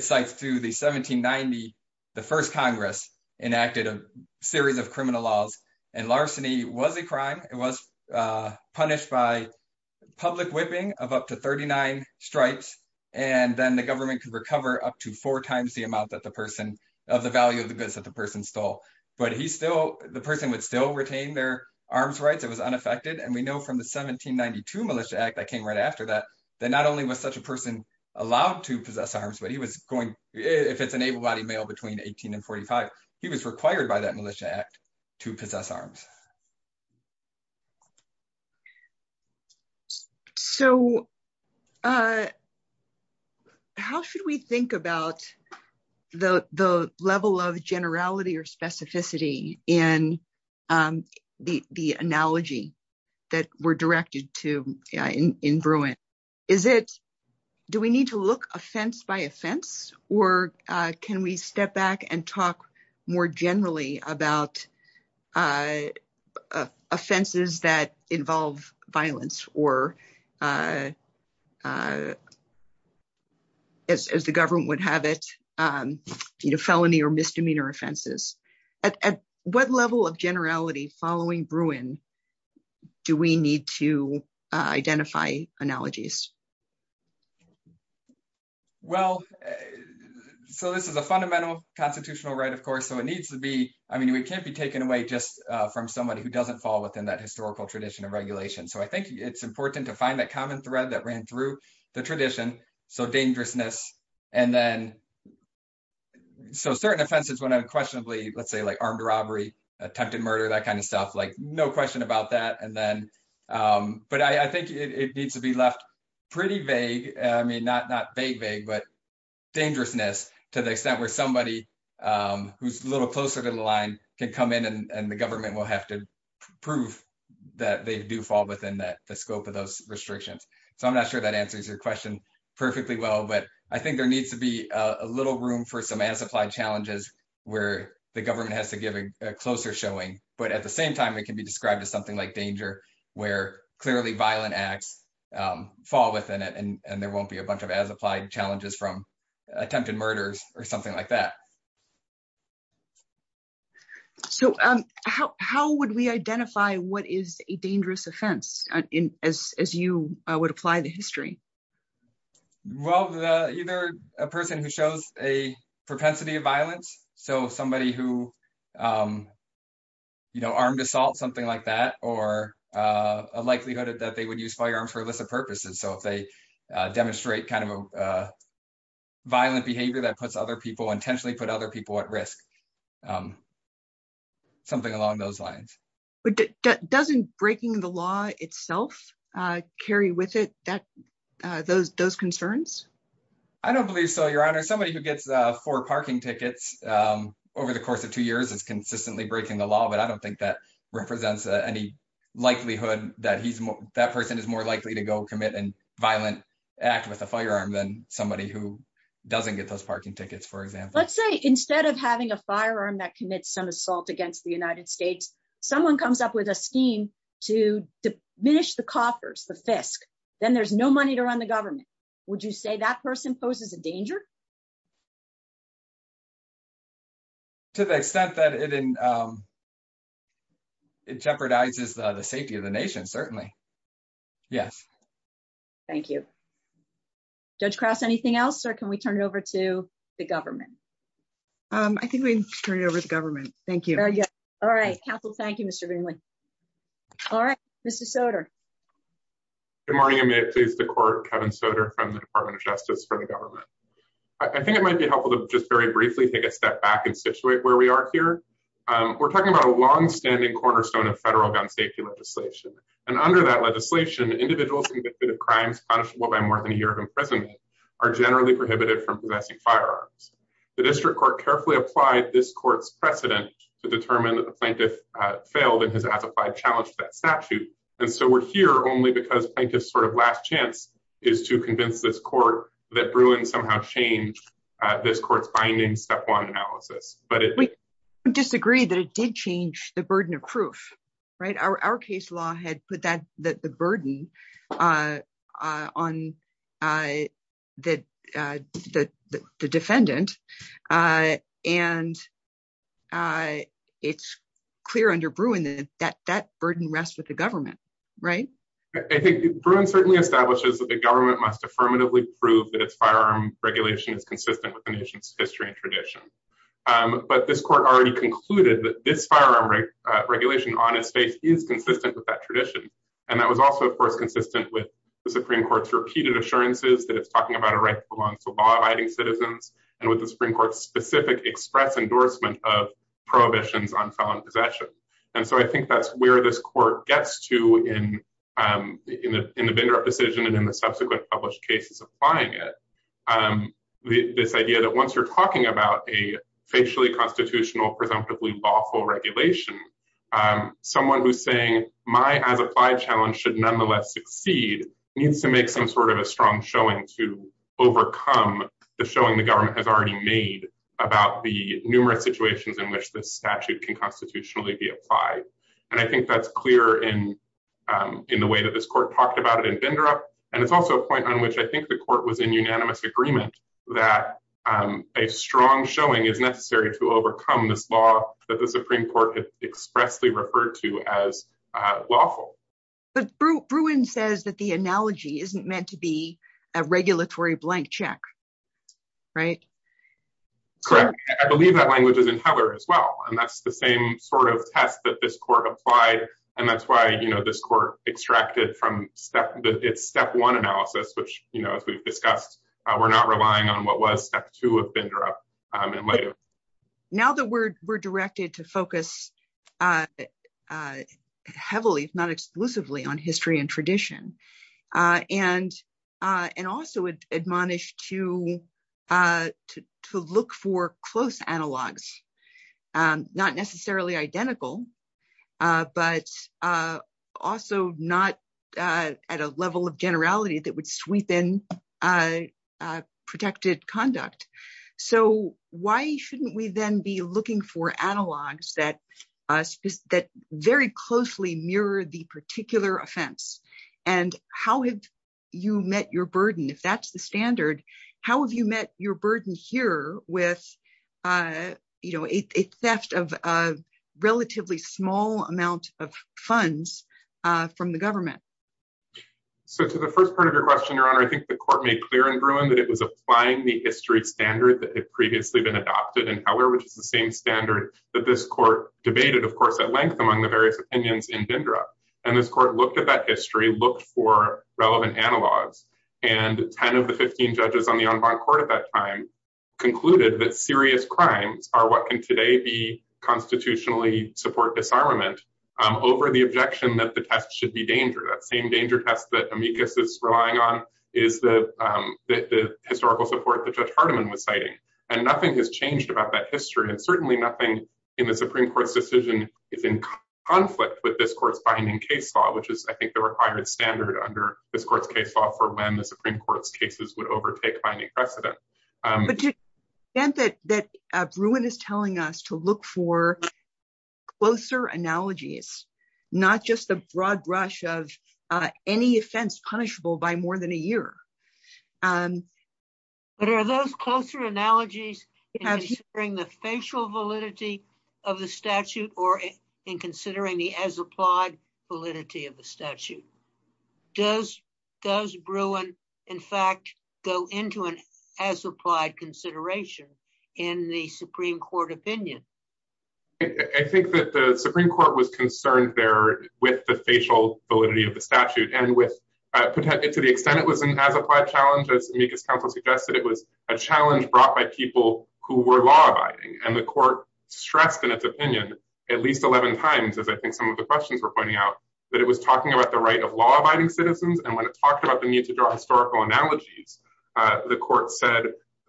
sites through the 17 90. a series of criminal laws crime. It was punished by up to 39 strikes and then recover up to four times person of the value of th stole. But he still, the still retain their arms r And we know from the 17 9 right after that, that no allowed to possess arms, an able bodied male betwe required by that Militia So, uh, how should we thi the level of generality o the analogy that we're di Is it, do we need to look or can we step back and t about, uh, offenses that violence or, uh, uh, as t have it, um, you know, fel offenses. At what level o Bruin do we need to identi Well, so this is a fundam right, of course. So it n we can't be taken away ju doesn't fall within that tradition of regulation. to find that common threa the tradition. So dangero certain offenses when unq say, like armed robbery, that kind of stuff, like that. And then, um, but I be left pretty vague. I m but dangerousness to the um, who's a little closer come in and the governmen to prove that they do fal of those restrictions. So your question perfectly w needs to be a little room challenges where the gove closer showing. But at th be described as something clearly violent acts, um, and there won't be a bunch challenges from attempted or something like that. S what is a dangerous offens apply the history? Well, who shows a propensity of who, um, you know, armed like that or, uh, likelih use firearm for illicit p demonstrate kind of, uh, puts other people intenti at risk. Um, something al But that doesn't breaking carry with it that, uh, t I don't believe so. Your gets four parking tickets of two years, it's consis law. But I don't think th likelihood that he's, tha is more likely to go comm act with a firearm than s get those parking tickets instead of having a firea assault against the Unite comes up with a scheme to the fisk, then there's no government. Would you say a danger? To the extent t the safety of the nation. you. Judge Cross. Anythin turn it over to the govern over the government. Thank Council. Thank you, Mr Gr Soter. Good morning. May i Kevin Soter from the Depa the government. I think i just very briefly take a s where we are here. We're cornerstone of federal gu And under that legislatio convicted of crimes punish a year of imprisonment ar from possessing firearms. carefully applied this co that the plaintiff failed that statute. And so we'r plaintiff's sort of last this court that Bruin som court findings step one a disagree that it did chan proof. Right? Our case la burden, uh, on, uh, the d and, uh, it's clear under burden rests with the gove Bruin certainly establish must affirmatively prove t is consistent with the nat tradition. Um, but this c that this firearm regulat is consistent with that t was also, of course, cons court's repeated assuranc about a right to belong t and with the Supreme Court endorsement of prohibition And so I think that's wher to in, um, in the in the in the subsequent publishe it. Um, this idea that on about a facially constitu lawful regulation, um, so my other five challenge s needs to make some sort o to overcome the showing t already made about the nu in which the statute can be applied. And I think t the way that this court p And it's also a point on court was in unanimous ag showing is necessary to o the Supreme Court has exp as lawful. But Bruin says isn't meant to be a regula Right? Correct. I believe other as well. And that's test that this court appli this court extracted from analysis, which, you kno not relying on what was t Um, and later now that we Uh, heavily, not exclusiv tradition. Uh, and, uh, a to, uh, to look for close analogs, um, not necessar uh, also not, uh, at a le that would sweep in, uh, So why shouldn't we then that, uh, that very close offense? And how have you that's the standard, how here with, uh, you know, small amount of funds fro to the first part of your I think the court made cl it was applying the histor previously been adopted i the same standard that th of course, at length, amo in Dindra. And this court looked for relevant analo And 10 of the 15 judges o at that time concluded th are what can today be con disarmament over the obje should be dangerous. Same amicus is relying on is t support that the tournament has changed about that hi nothing in the Supreme Cou in conflict with this cour which is I think the requi case law for when the Sup would overtake by any prec that Bruin is telling us analogies, not just the b offense punishable by mor are those closer analogies validity of the statute o as applied validity of th Bruin in fact go into an in the Supreme Court opin the Supreme Court was con the spatial validity of t with to the extent it was as the council suggested brought by people who wer court stressed in its opi as I think some of the qu out that it was talking a law abiding citizens. And the need to draw historica said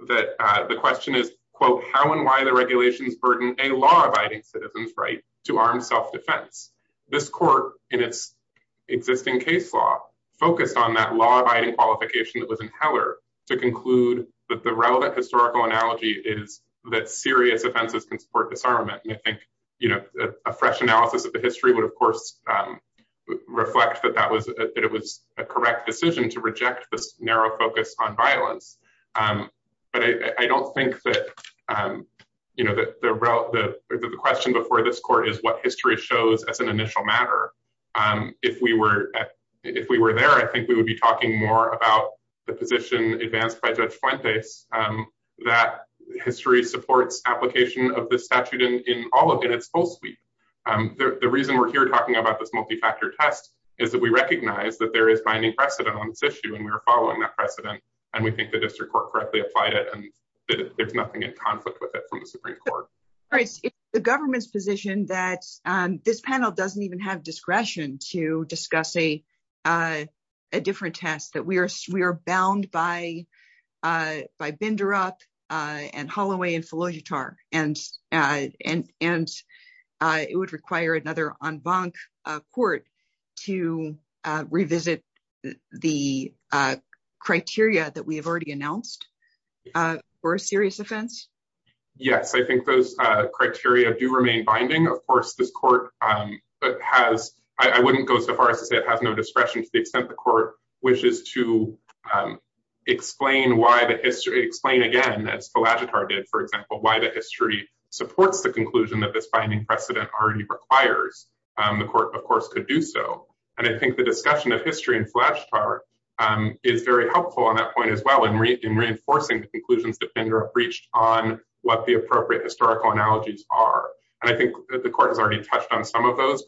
that the question is the regulations burden a right to arm self defense. existing case law focused qualification that was in that the relevant histori serious offenses for disa analysis of the history w that that was that it was to reject this narrow foc I don't think that um you the question before this shows as an initial matte we were there, I think we more about the position a point that um that histor application of the statu full suite. Um the reason about this multifactor tes that there is finding prec we're following that prec the district court correc there's nothing in confli Supreme Court. It's the g that um this panel doesn' to discuss a uh a differen we are bound by uh by bin uh and Holloway and philo and uh it would require a to revisit the criteria t announced uh for a serious I think those criteria do Of course this court um h go so far as to have no d extent the court wishes t why the history explain a did for example why the h that this finding precede Um the court of course co think the discussion of h um is very helpful on tha and reinforcing conclusions on what the appropriate h are. And I think that the touched on some of those.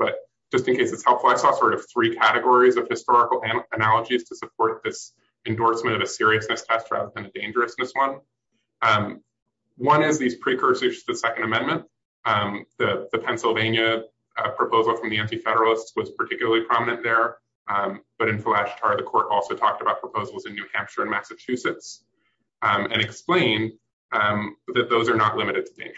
it's helpful. I saw sort of historical analogies t endorsement of a serious dangerousness one. Um One the second amendment. Um proposal from the anti fe prominent there. Um but i also talked about proposa in Massachusetts. Um and are not limited to danger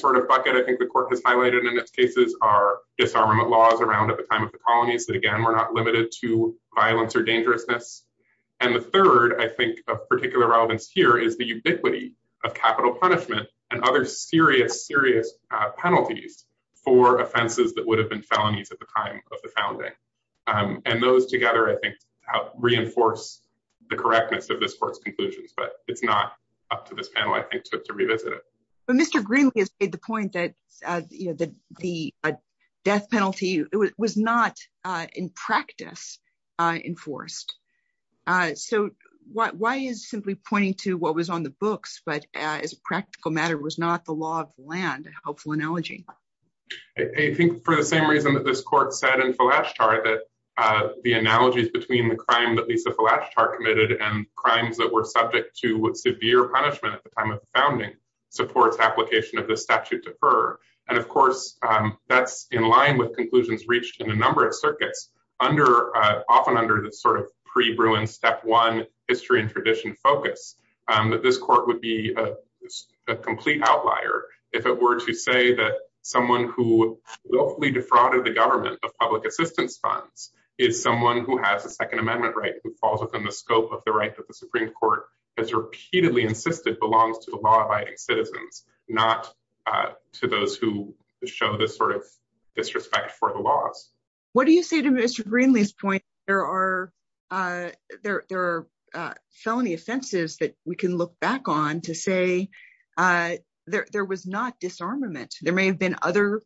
sort of bucket. I think t in this cases are disarma at the time of the colony we're not limited to viol And the third I think of here is the ubiquity of c and other serious, seriou offenses that would have the time of the founding. I think reinforce the cor conclusions, but it's not I think to revisit it. So the point that uh you kno a death penalty. It was n enforced. Uh So why is si was on the books, but as not the law of land helpf for the same reason that the last target. Uh the a the crime that the last t that were subject to with at the time of the foundi of the statute defer. And in line with conclusions of circuits under often u pre ruined step one histo focus. Um but this court outlier. If it were to sa locally defrauded the gov funds is someone who has right falls within the sc of the Supreme Court has to the law abiding citizens who show this sort of dis What do you say to Mr Gre uh there are felony offen back on to say uh there w There may have been other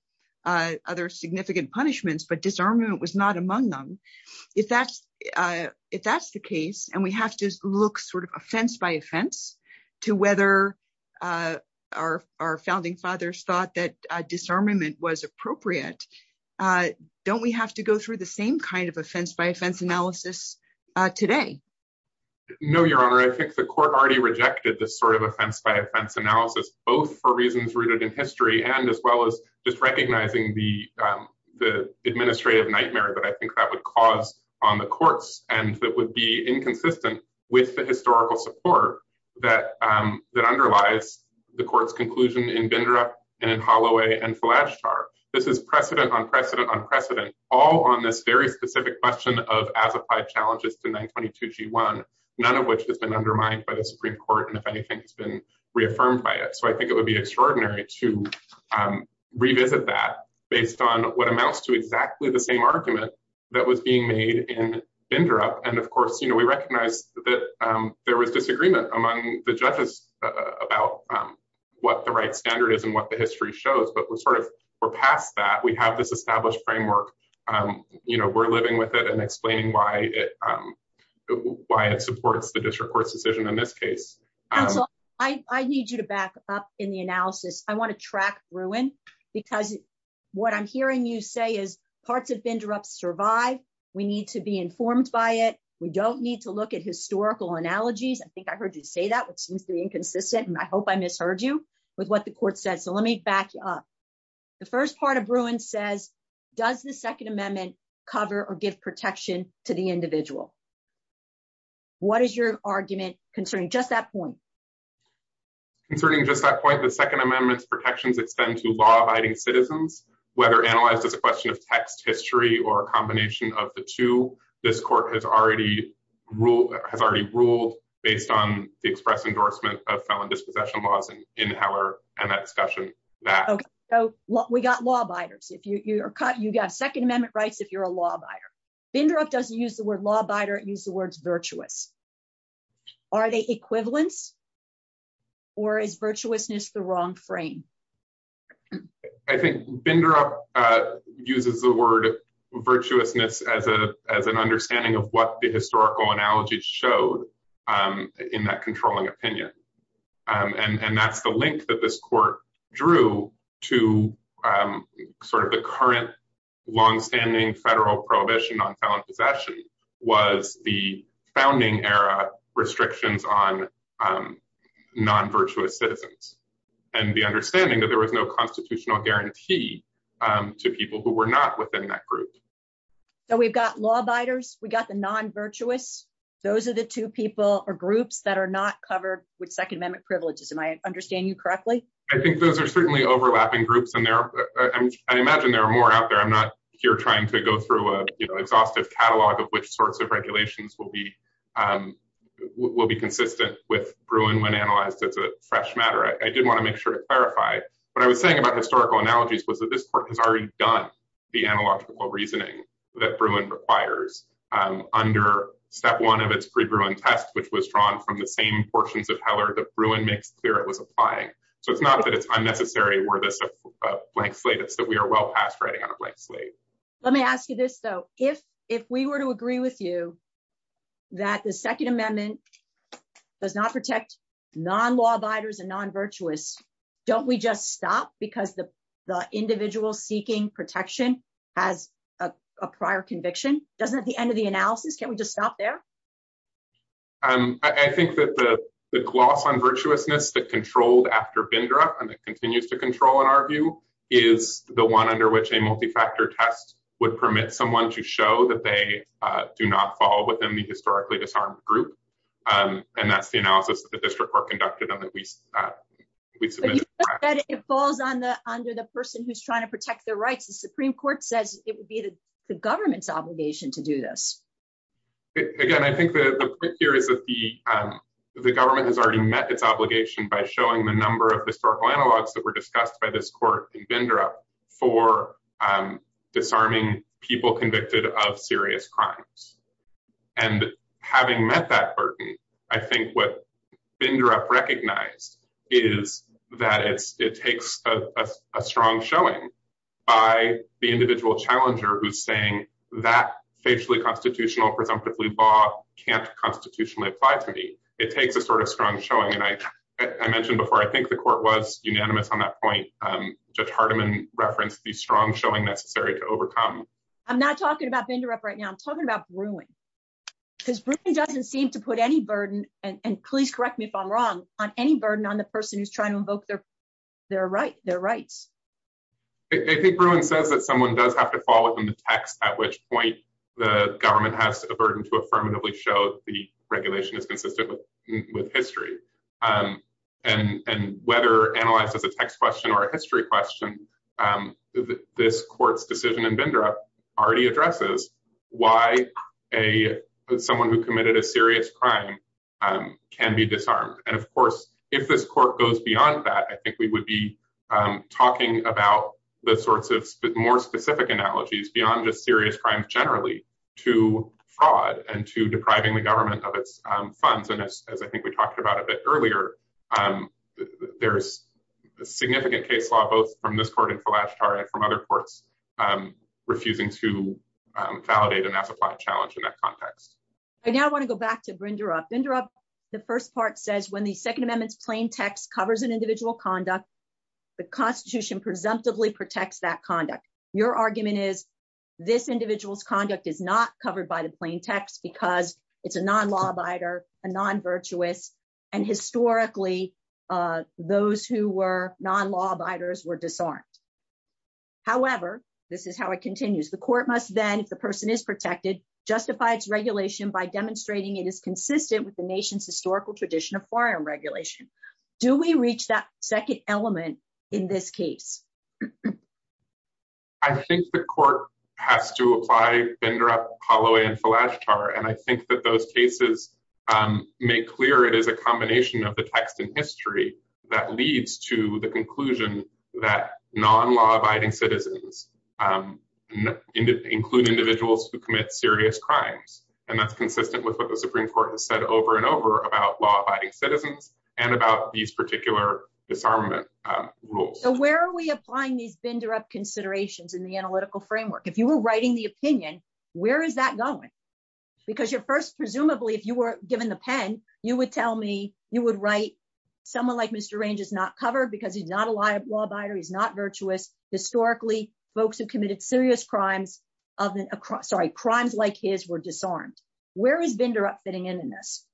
punishments, but disarmam them. If that's uh if tha and we have to look sort to whether uh our our fou that disarmament was appr have to go through the sa offense analysis today? N the court already rejecte by offense analysis, both in history and as well as the administrative nightm that would cause on the c inconsistent with the his that um that underlies th in vendor and Holloway an is precedent on precedent on this very specific qu challenges to 9 22 G one, been undermined by the Su anything has been reaffir it would be extraordinary based on what amounts to argument that was being m interrupt. And of course that um there was disagree about um what the right s the history shows. But we that we have this establi know, we're living with i why it um why it support decision in this case. I up in the analysis. I wan because what I'm hearing is parts of interrupt sur informed by it. We don't analogies. I think I've h which seems to be inconsi misheard you with what th let me back up. The first says, does the second ame give protection to the in argument concerning just just that point, the seco law abiding citizens, whe the question of text hist of the two, this court ha already ruled based on ex of felon disprofessional discussion that we got la are cut, you got second a you're a law buyer. Binder word law buyer, use the w Are they equivalent or is wrong frame? I think Bind word virtuousness as a, a of what the historical an controlling opinion. Um a that this court drew to u long standing federal pro on balance of action was restrictions on um nonvir the understanding that th guarantee um to people wh that group. So we've got the non virtuous. Those a are groups that are not c privileges. And I underst I think those are certain and there I imagine there I'm not here trying to go catalog of which sorts of be um will be consistent as a fresh matter. I did to clarify what I was say analogies was that this p the analogical reasoning Um under step one of its which was drawn from the of heller that brewing ma So it's not that it's unne a blank slate is that we on a blank slate. Let me if if we were to agree wi Second Amendment does not and non virtuous. Don't w the individual seeking pr conviction doesn't at the Can we just stop there? U the gloss on virtuousness after vendor up and it co in our view is the one un test would permit someone do not fall within the hi group. Um and that's, you report conducted in the w it falls on the under the to protect their rights. said it would be the gove to do this again. I think the the government has al by showing the number of that were discussed by th for um disarming people c crimes. And having met th what finger up recognize a strong showing by the i presumptively Bob can't c it takes a sort of strong before. I think the court on that point. Um Judge H be strong showing necessar talking about vendor up r about brewing because bri to put any burden and ple wrong on any burden on th invoke their their rights says that someone does ha text at which point the g burden to affirmatively is consistent with histor as a text question or a h this court's decision and why a someone who commite can be disarmed. And of c goes beyond that, I think about the sorts of more s crimes generally to fraud government of its funds. we talked about a bit ear case law, both from this and from other courts um and that's a challenge in I want to go back to brin first part says when the plain text covers an indi Constitution presumptively that conduct. Your argume conduct is not covered by it's a non law abider, a historically uh those who were disarmed. However, t The court must then if th justify its regulation by it is consistent with the tradition of firearm regu that second element in th the court has to apply th last part. And I think th clear it is a combination that leads to the conclus citizens um include indiv serious crimes. And that' the Supreme Court has sai law abiding citizens and disarmament rules. So wher these vendor up considerat framework? If you were wr where is that going? Beca if you were given the pen you would write someone l not covered because he's is not virtuous. Historic serious crime of sorry, c disarmed. Where is vendor in this?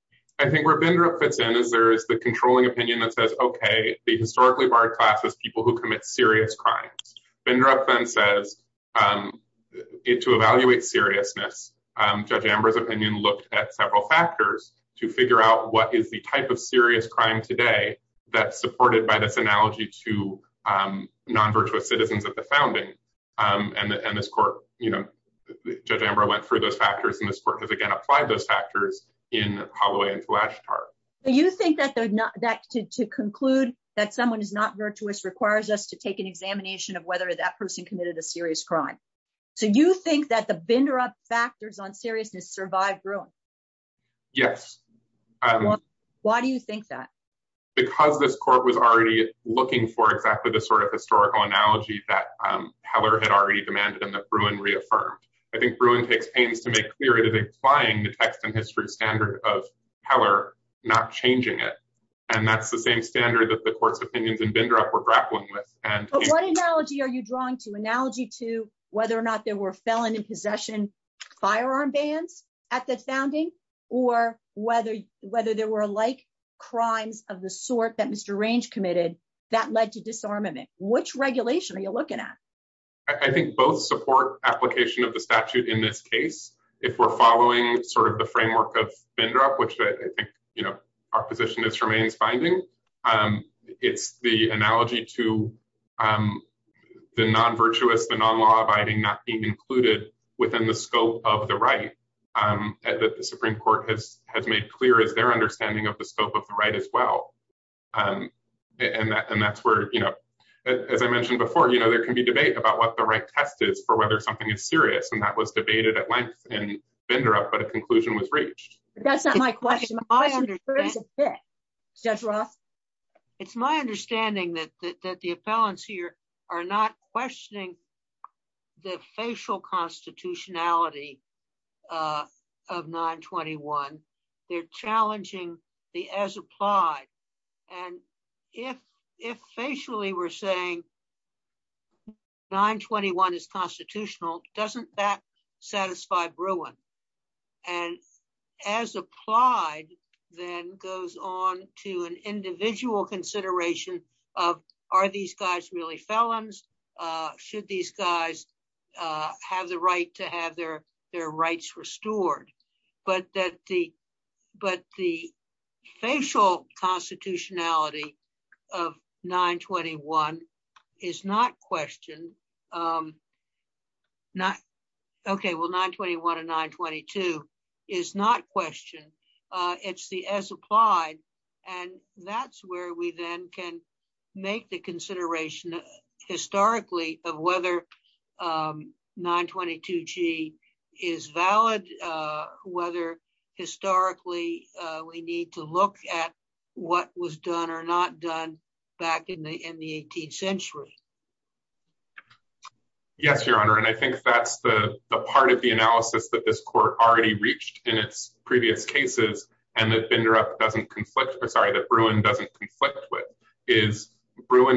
I think we're ve there's the controlling o the historically barred c commit serious crimes. Be to evaluate seriousness. looked at several factors is the type of serious cri by this analogy to um non of the founding. Um and t know, Judge Amber went th this court has again appl Holloway last part. Do yo that to conclude that som requires us to take an ex that person committed a s think that the vendor up survived ruin? Yes. Why d because this court was al exactly the sort of histo Heller had already demand reaffirmed. I think Bruin clear that they find the of power, not changing it standard of the court's o were grappling with. What drawn to analogy to wheth felon in possession, fire founding or whether, wheth of the sort that Mr Range to disarmament. Which reg you looking at? I think b of the statute in this ca sort of the framework of I think, you know, our po finding. Um, it's the ana the non law abiding not b the scope of the right. U court has has made clear of the scope of the right Um, and that's and that's I mentioned before, you k about what the right test is serious. And that was and vendor up. But the co That's not my question. I rock. It's my understand here are not questioning the facial constitutiona They're challenging the a facially we're saying 9 21 doesn't that satisfy Brui then goes on to an individ of are these guys really felons? Uh, should these right to have their, thei But that the, but the fac of 9 21 is not questioned 9 21 to 9 22 is not quest applied. And that's where then can make the conside of whether um 9 22 G is v historically we need to l or not done back in the i your honor. And I think t the analysis that this co in its previous cases and sorry that Bruin doesn't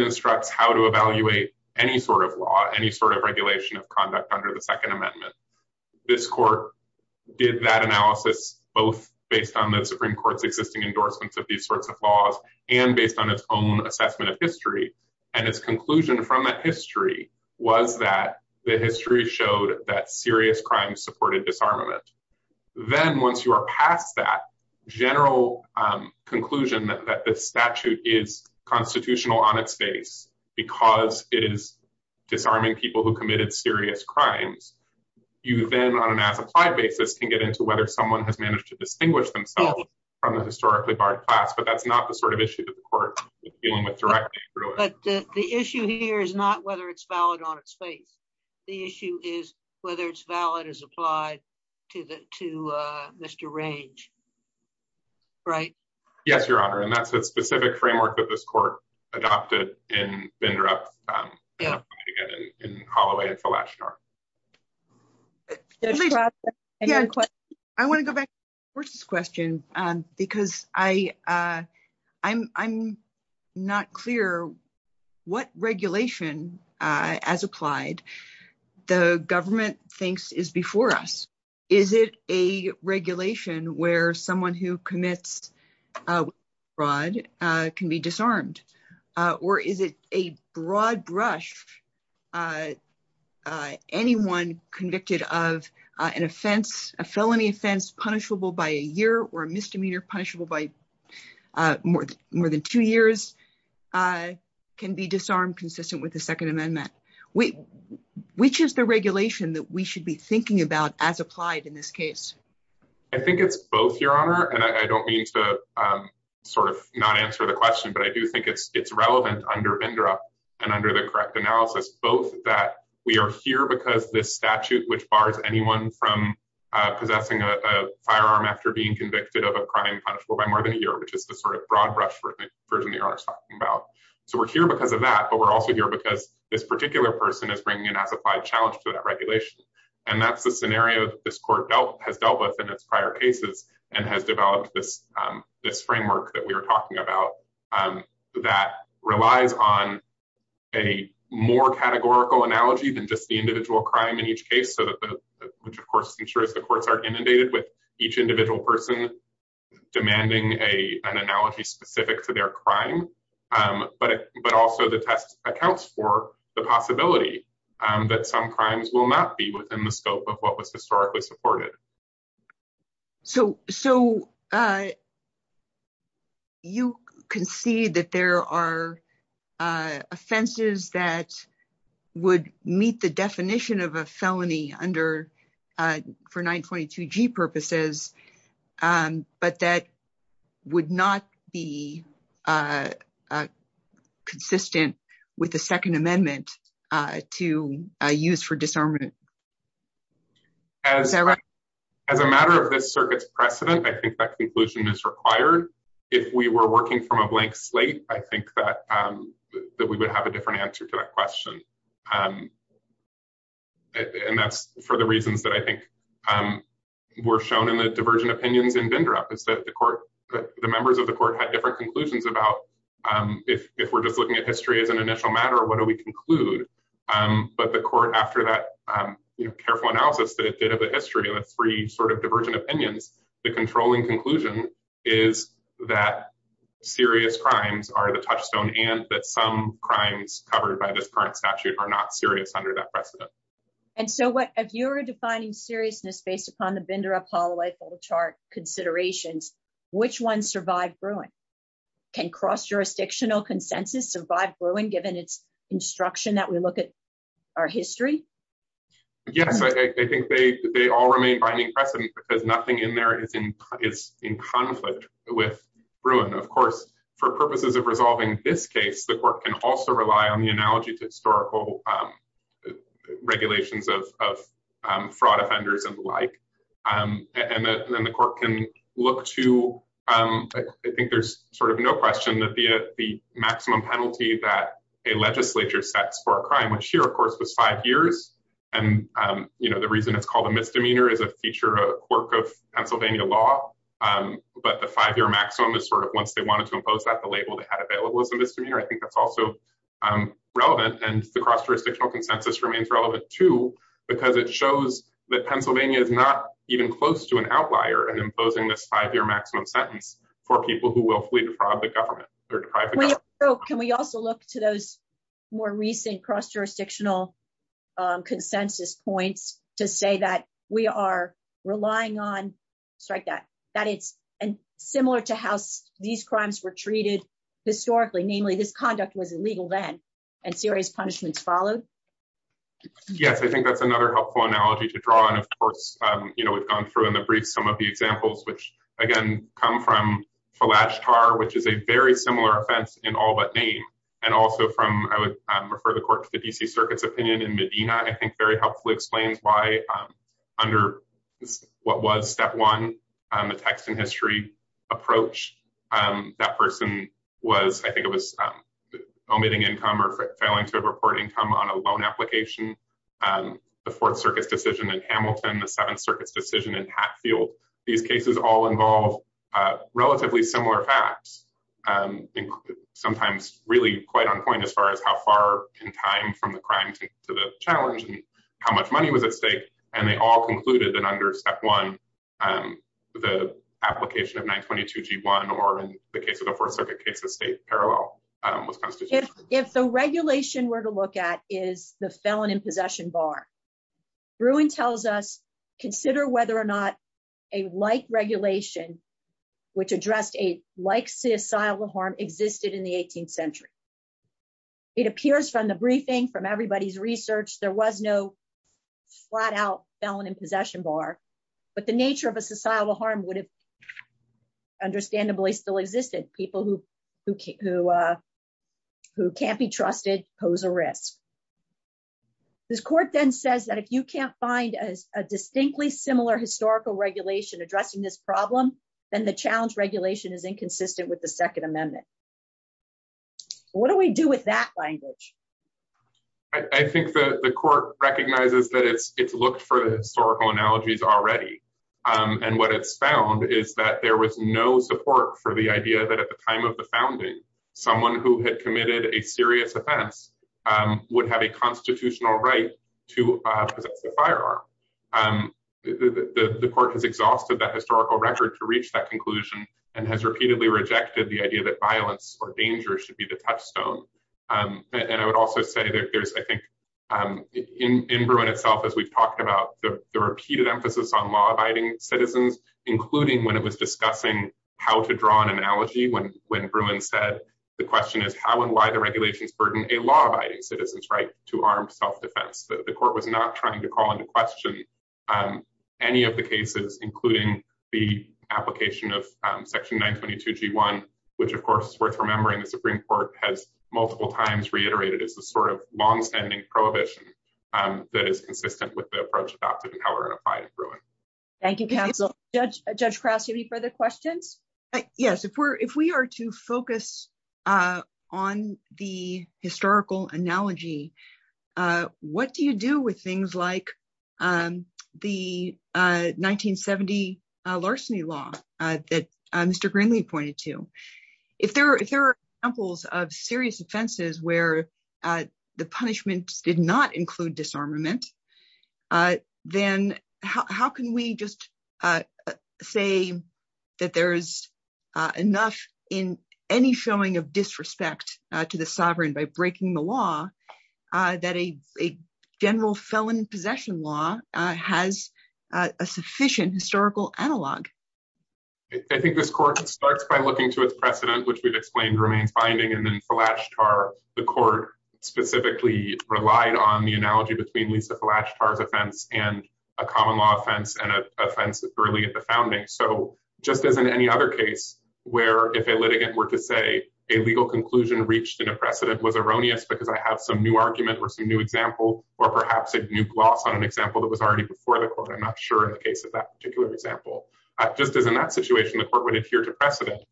instruct how to evaluate sort of regulation of con amendment. This court did based on the Supreme Cour of these sorts of laws an assessment of history and that history was that the serious crimes supported disarmament. Then once yo um conclusion that the st on its face because it is who committed serious crim an appetite basis can get has managed to distinguish historically barred class sort of issue that the cou But the issue here is not on its face. The issue is is applied to the to Mr. your honor. And that's a that this court adopted i to get in holloway. It's to go back to the question I'm not clear what regula as applied. The governmen us. Is it a regulation wh broad can be disarmed? Uh rush? Uh, anyone convicte a felony offense, punisha misdemeanor, punishable b two years. Uh, can be dis amendment. We, which is t we should be thinking abo this case? I think it's b I don't mean to sort of n but I do think it's it's and under the correct ana because this statute, whi from possessing a firearm of a crime punishable by is the sort of broad brush are talking about. So we'r that. But we're also here person is bringing an app to that regulation. And t this court dealt has dealt cases and has developed t we were talking about. Um a more categorical analog crime in each case. So th ensures the courts are in each individual person de specific to their crime. accounts for the possibli will not be within the sc supported. So, so uh, you are uh, offenses that wou of a felony under, uh, fo Um, but that would not be the second amendment, uh, it as a matter of this ci think that conclusion is working from a blank slate we would have a different And that's for the reason shown in the diversion op is that the court, the me had different conclusions just looking at history a what do we conclude? Um, that careful analysis tha and it's free sort of div controlling conclusion is are the touchstone and th by this current statute a that precedent. And so wh seriousness based upon th chart considerations, whi Bruin can cross jurisdicti Bruin given its instructi our history? Yes, I think finding precedent because in, it's in conflict with purposes of resolving thi work can also rely on the um, regulations of, of, u and the like. Um, and then look to, um, I think ther that the, the maximum pen specs for a crime, which five years. And um, you k called a misdemeanor is a Pennsylvania law. Um, but is sort of once they want at the label they had ava I think that's also um, r jurisdictional consensus too, because it shows tha even close to an outlier maximum sentence for peop defraud the government. O to those more recent cros points to say that we are that that is similar to h crimes were treated histo conduct was illegal then followed. Yes. I think th analogy to draw on. Of cou through in the brief. Som which again come from a l a very similar offense in also from I would refer t Circus opinion in Medina explains why under what w a text in history approach was, I think it was, um, or failing to report inco Um, the Fourth Circuit de the Seventh Circuit decisi cases all involve, uh, re Um, sometimes really quit as how far in time from t the challenge and how muc all concluded that under of 9 22 G one or in the c case of state parallel. I were to look at is the fe bar brewing tells us cons a like regulation which a the asylum harm existed i It appears from the brief research, there was no fl possession bar. But the n harm would have understan people who, who, uh, who pose a risk. This court t you can't find a distinct regulation addressing thi challenge regulation is i amendment. What do we do I think the court recogni for historical analogies it's found is that there that at the time of the f had committed a serious of a constitutional right to the court has exhausted t that conclusion and has r the idea that violence or the touchstone. Um, and I there's, I think, um, in we've talked about the re on law abiding citizens, was discussing how to dra Bruin said, the question burden a law abiding citi self defense. The court w call into question. Um, a cases, including the appl 22 G one, which of course the Supreme Court has mul as the sort of long tendi is consistent with the ap by Bruin. Thank you counc any further questions? Ye are to focus, uh, on the Uh, what do you do with t Um, the, uh, 1970 larceny Greenlee pointed to if th of serious offenses where did not include disarmame we just, uh, say that the showing of disrespect to the law, uh, that a gener law has a sufficient hist think this court starts b precedent, which we've exp and then flashed are the relied on the analogy bet of defense and a common l securely at the founding. other case where if a lit were to say a legal concl was erroneous because I h or some new examples or p on an example that was al I'm not sure in the case example, just as in that would adhere to precedent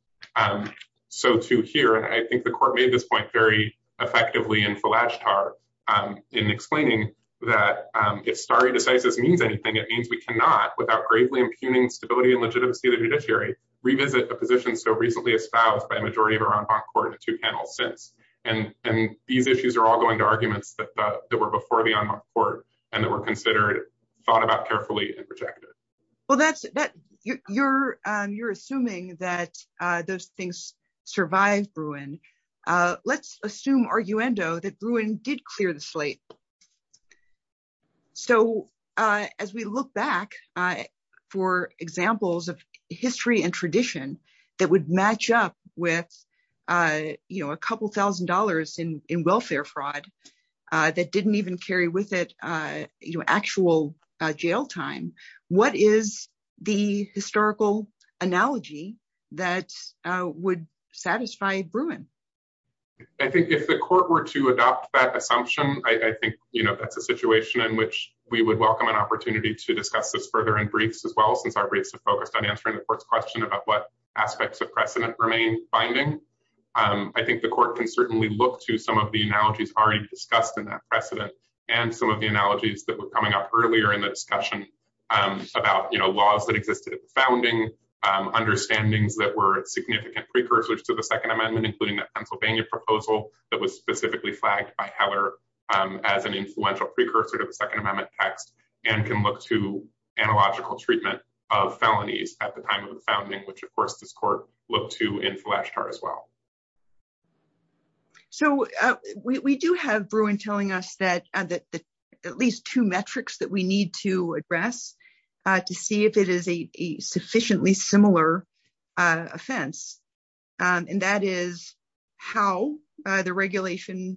I think the court made th and flashed are, um, in e started to say it doesn't means we cannot without g and legitimacy of the jud revisit the position so r by majority of our own co And, and these issues are that that were before the were considered thought a projected. Well, that's t that those things survive arguendo that ruin did cl So, uh, as we look back f and tradition that would a couple of $1,000 in wel didn't even carry with it time? What is the histori would satisfy Bruin? I thi to adopt that assumption, that's a situation in whic an opportunity to discuss as well as our briefs foc the first question about remain finding. Um, I thi look to some of the analog that precedent and some o that was coming up earlie um, about, you know, laws um, understandings that w to the second amendment, proposal that was specifi heller as an influential of the second amendment t to analogical treatment o time of the founding, whi look to in flashcard as w Bruin telling us that at that we need to address t a sufficiently similar off is how the regulation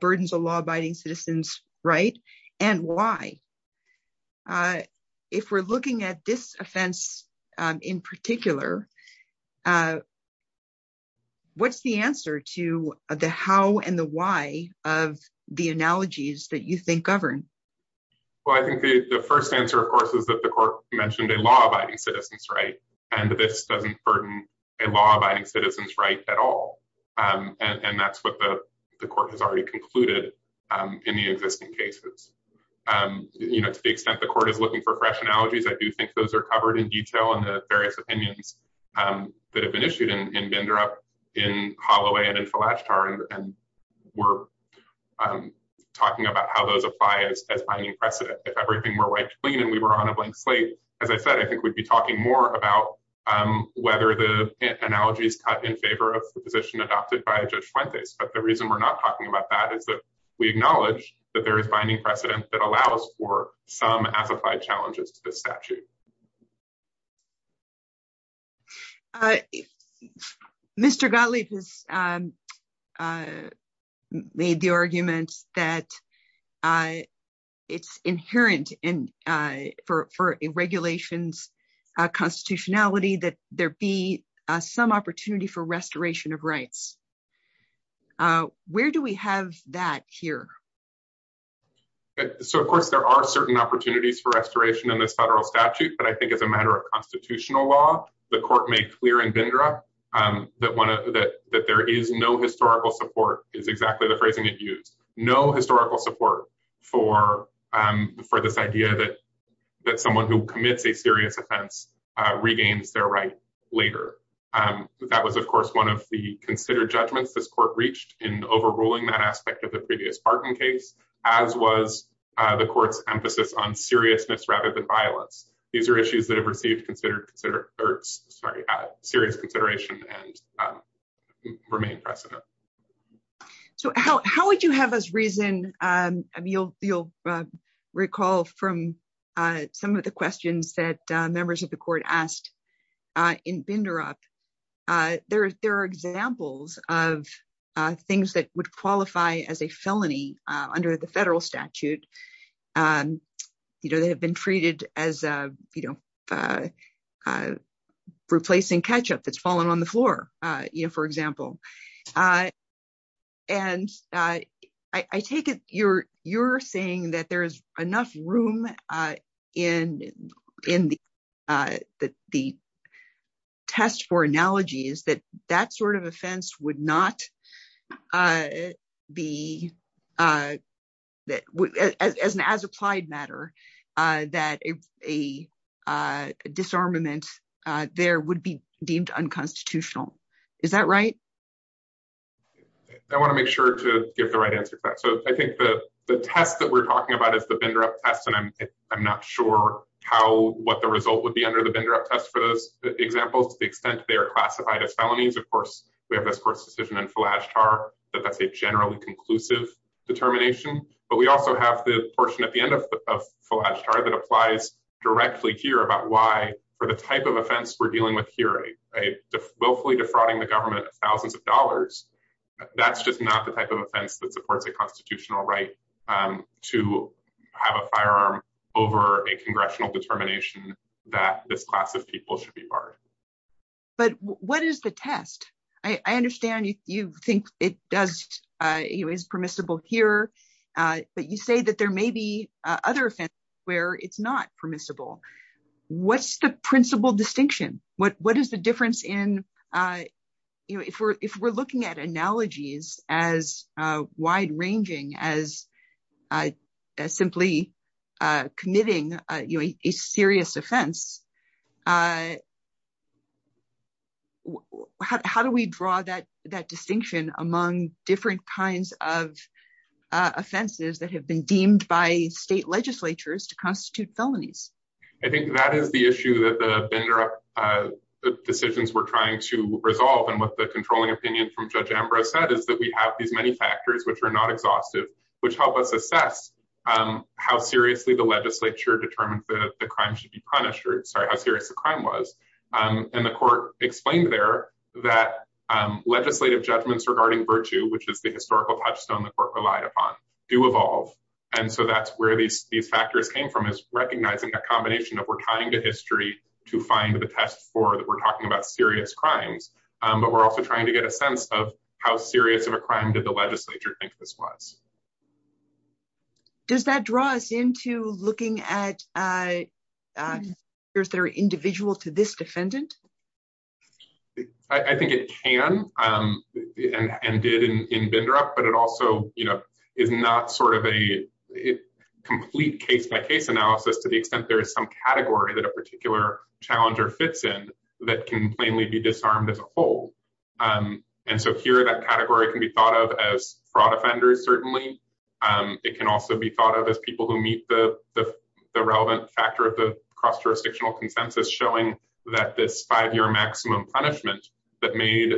bur law abiding citizens, rig looking at this offense i the answer to the how and that you think govern? We answer, of course, is that a law abiding citizens, r burden a law abiding citi Um, and that's what the c in the existing cases. Um the court is looking for do think those are covere various opinions that hav and interrupt in Holloway and we're talking about h as finding precedent. If clean and we were on a bla I think we'd be talking m the analogies in favor of by a judge. But the reaso about that is that we ack finding precedence that a amplified challenges to t Gottlieb has, um, uh, ma that, uh, it's inherent i uh, constitutionality, th for restoration of rights that here? So, of course, opportunities for restorat statute. But I think it's law, the court makes clea one of that there is no h exactly the phrasing that support for, um, for this who commit a serious offe their rights later. Um, t one of the considered jud in overruling that aspect case, as was the court's rather than violence. Thes have received considered consideration and remain possible. So how would yo Um, you'll, you'll recall that members of the court up. Uh, there are example would qualify as a felony statute. Um, you know, th as, uh, you know, uh, repl that's fallen on the floo Uh, and, uh, I take it, y there's enough room, uh, the test for analogy is t offense would not, uh, be matter, uh, that a disarm there would be deemed unc right? I want to make sure answer. So I think the tes about is the vendor up te how, what the result would up test for those examples are classified as felonies this first decision and f a generally conclusive det also have the portion at applies directly here abo of offense we're dealing defrauding the government that's just not the type a constitutional right. U over a congressional dete class of people should be the test? I understand yo is permissible here. Uh, there may be other offens permissible. What's the p What, what is the differen we're, if we're looking a ranging as, uh, simply, u a serious offense. Uh, ho that, that distinction am of offenses that have bee to constitute felonies. I issue that the, uh, decisi to resolve. And what the from Judge Amber said is factors which are not exh us assess, um, how seriou determined the crime shou how serious the crime was there that legislative ju which is the historical p relied upon to evolve. An these factors came from i that we're tying to histo for that we're talking ab Um, but we're also trying how serious of a crime di think this was. Does that at, uh, uh, there's their defendant? I think it can it also, you know, is not case by case analysis to some category that a part fits in that can plainly Um, and so here that cate of as fraud offenders. Cer also be thought of as peo the relevant factor of th showing that this five ye that made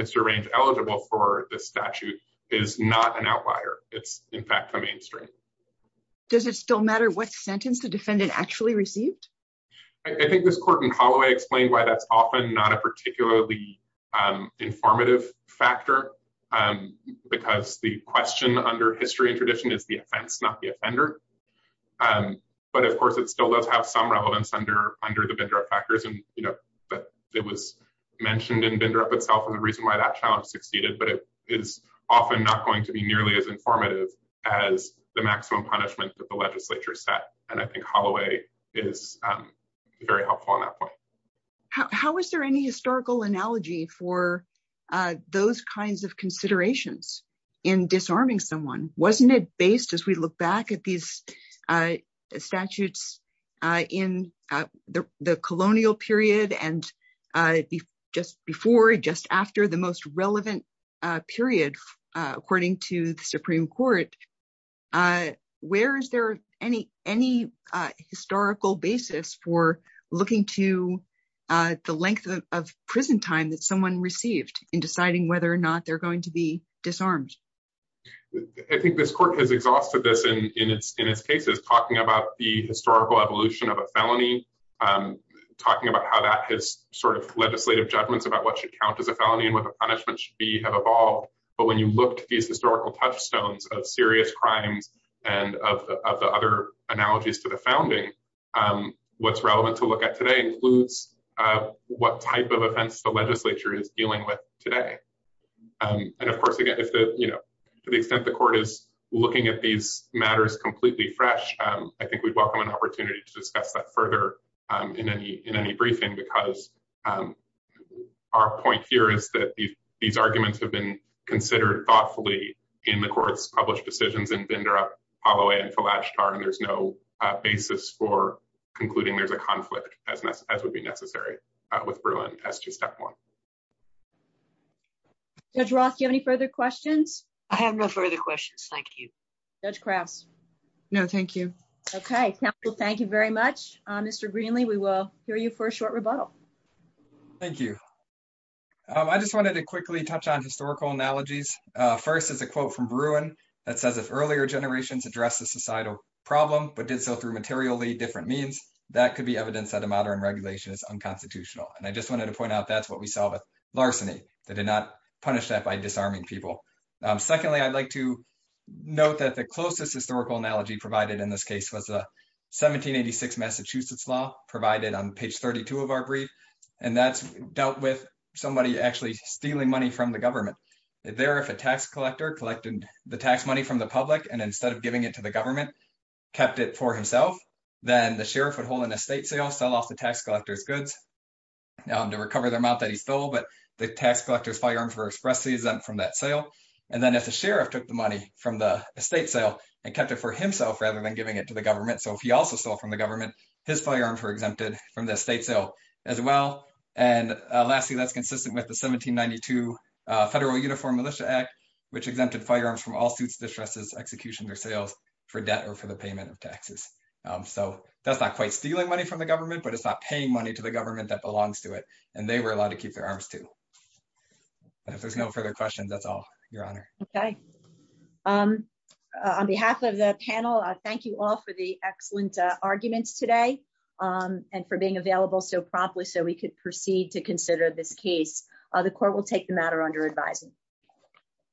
Mr Raines eligi is not an outlier. It's i Does it still matter what actually received? I think I explained why that's of informative factor. Um, b under history and traditio the offender. Um, but of some relevance under, unde and you know, it was menti itself and the reason why But it is often not going informative as the maximu legislature set. And I th helpful on that point. How analogy for those kinds o disarming someone? Wasn't as we look back at these the colonial period and j the most relevant period, Court. Uh, where is there basis for looking to uh t time that someone receive or not they're going to b I think this court has ex its cases talking about t of a felony. Um, talking of legislative judgments as a felony and what the have evolved. But when yo touchstones of serious cr analogies to the founding to look at today includes the legislature is dealin Um, and of course, again, the court is looking at t fresh. Um, I think we wel to discuss that further u because, um, our point he have been considered thoug published decisions and b until last term. There's there's a conflict as wou with Bruin. That's just t any further questions? I Thank you. That's crap. N capital. Thank you very m We will hear you for a sho you. I just wanted to qui analogies. First is a quot says it's earlier generat societal problem, but did different means. That cou regulation is unconstituti to point out. That's what that did not punish that Secondly, I'd like to not historical analogy provid a 17 86 Massachusetts law of our brief and that's d actually stealing money f there. If a tax collector money from the public and it to the government, kep it for himself. Then the an estate sale, sell off goods to recover the amo but the tax collector's f exempt from that sale. An took the money from the e it for himself rather tha the government. So if he government, his firearms the state sale as well. A consistent with the 17 92 Act, which exempted firea distresses execution or s or for the payment of tax quite stealing money from it's not paying money to belongs to it. And they w their arms to. If there's that's all your honor. Oka panel. Thank you all for today. Um, and for being so we could proceed to co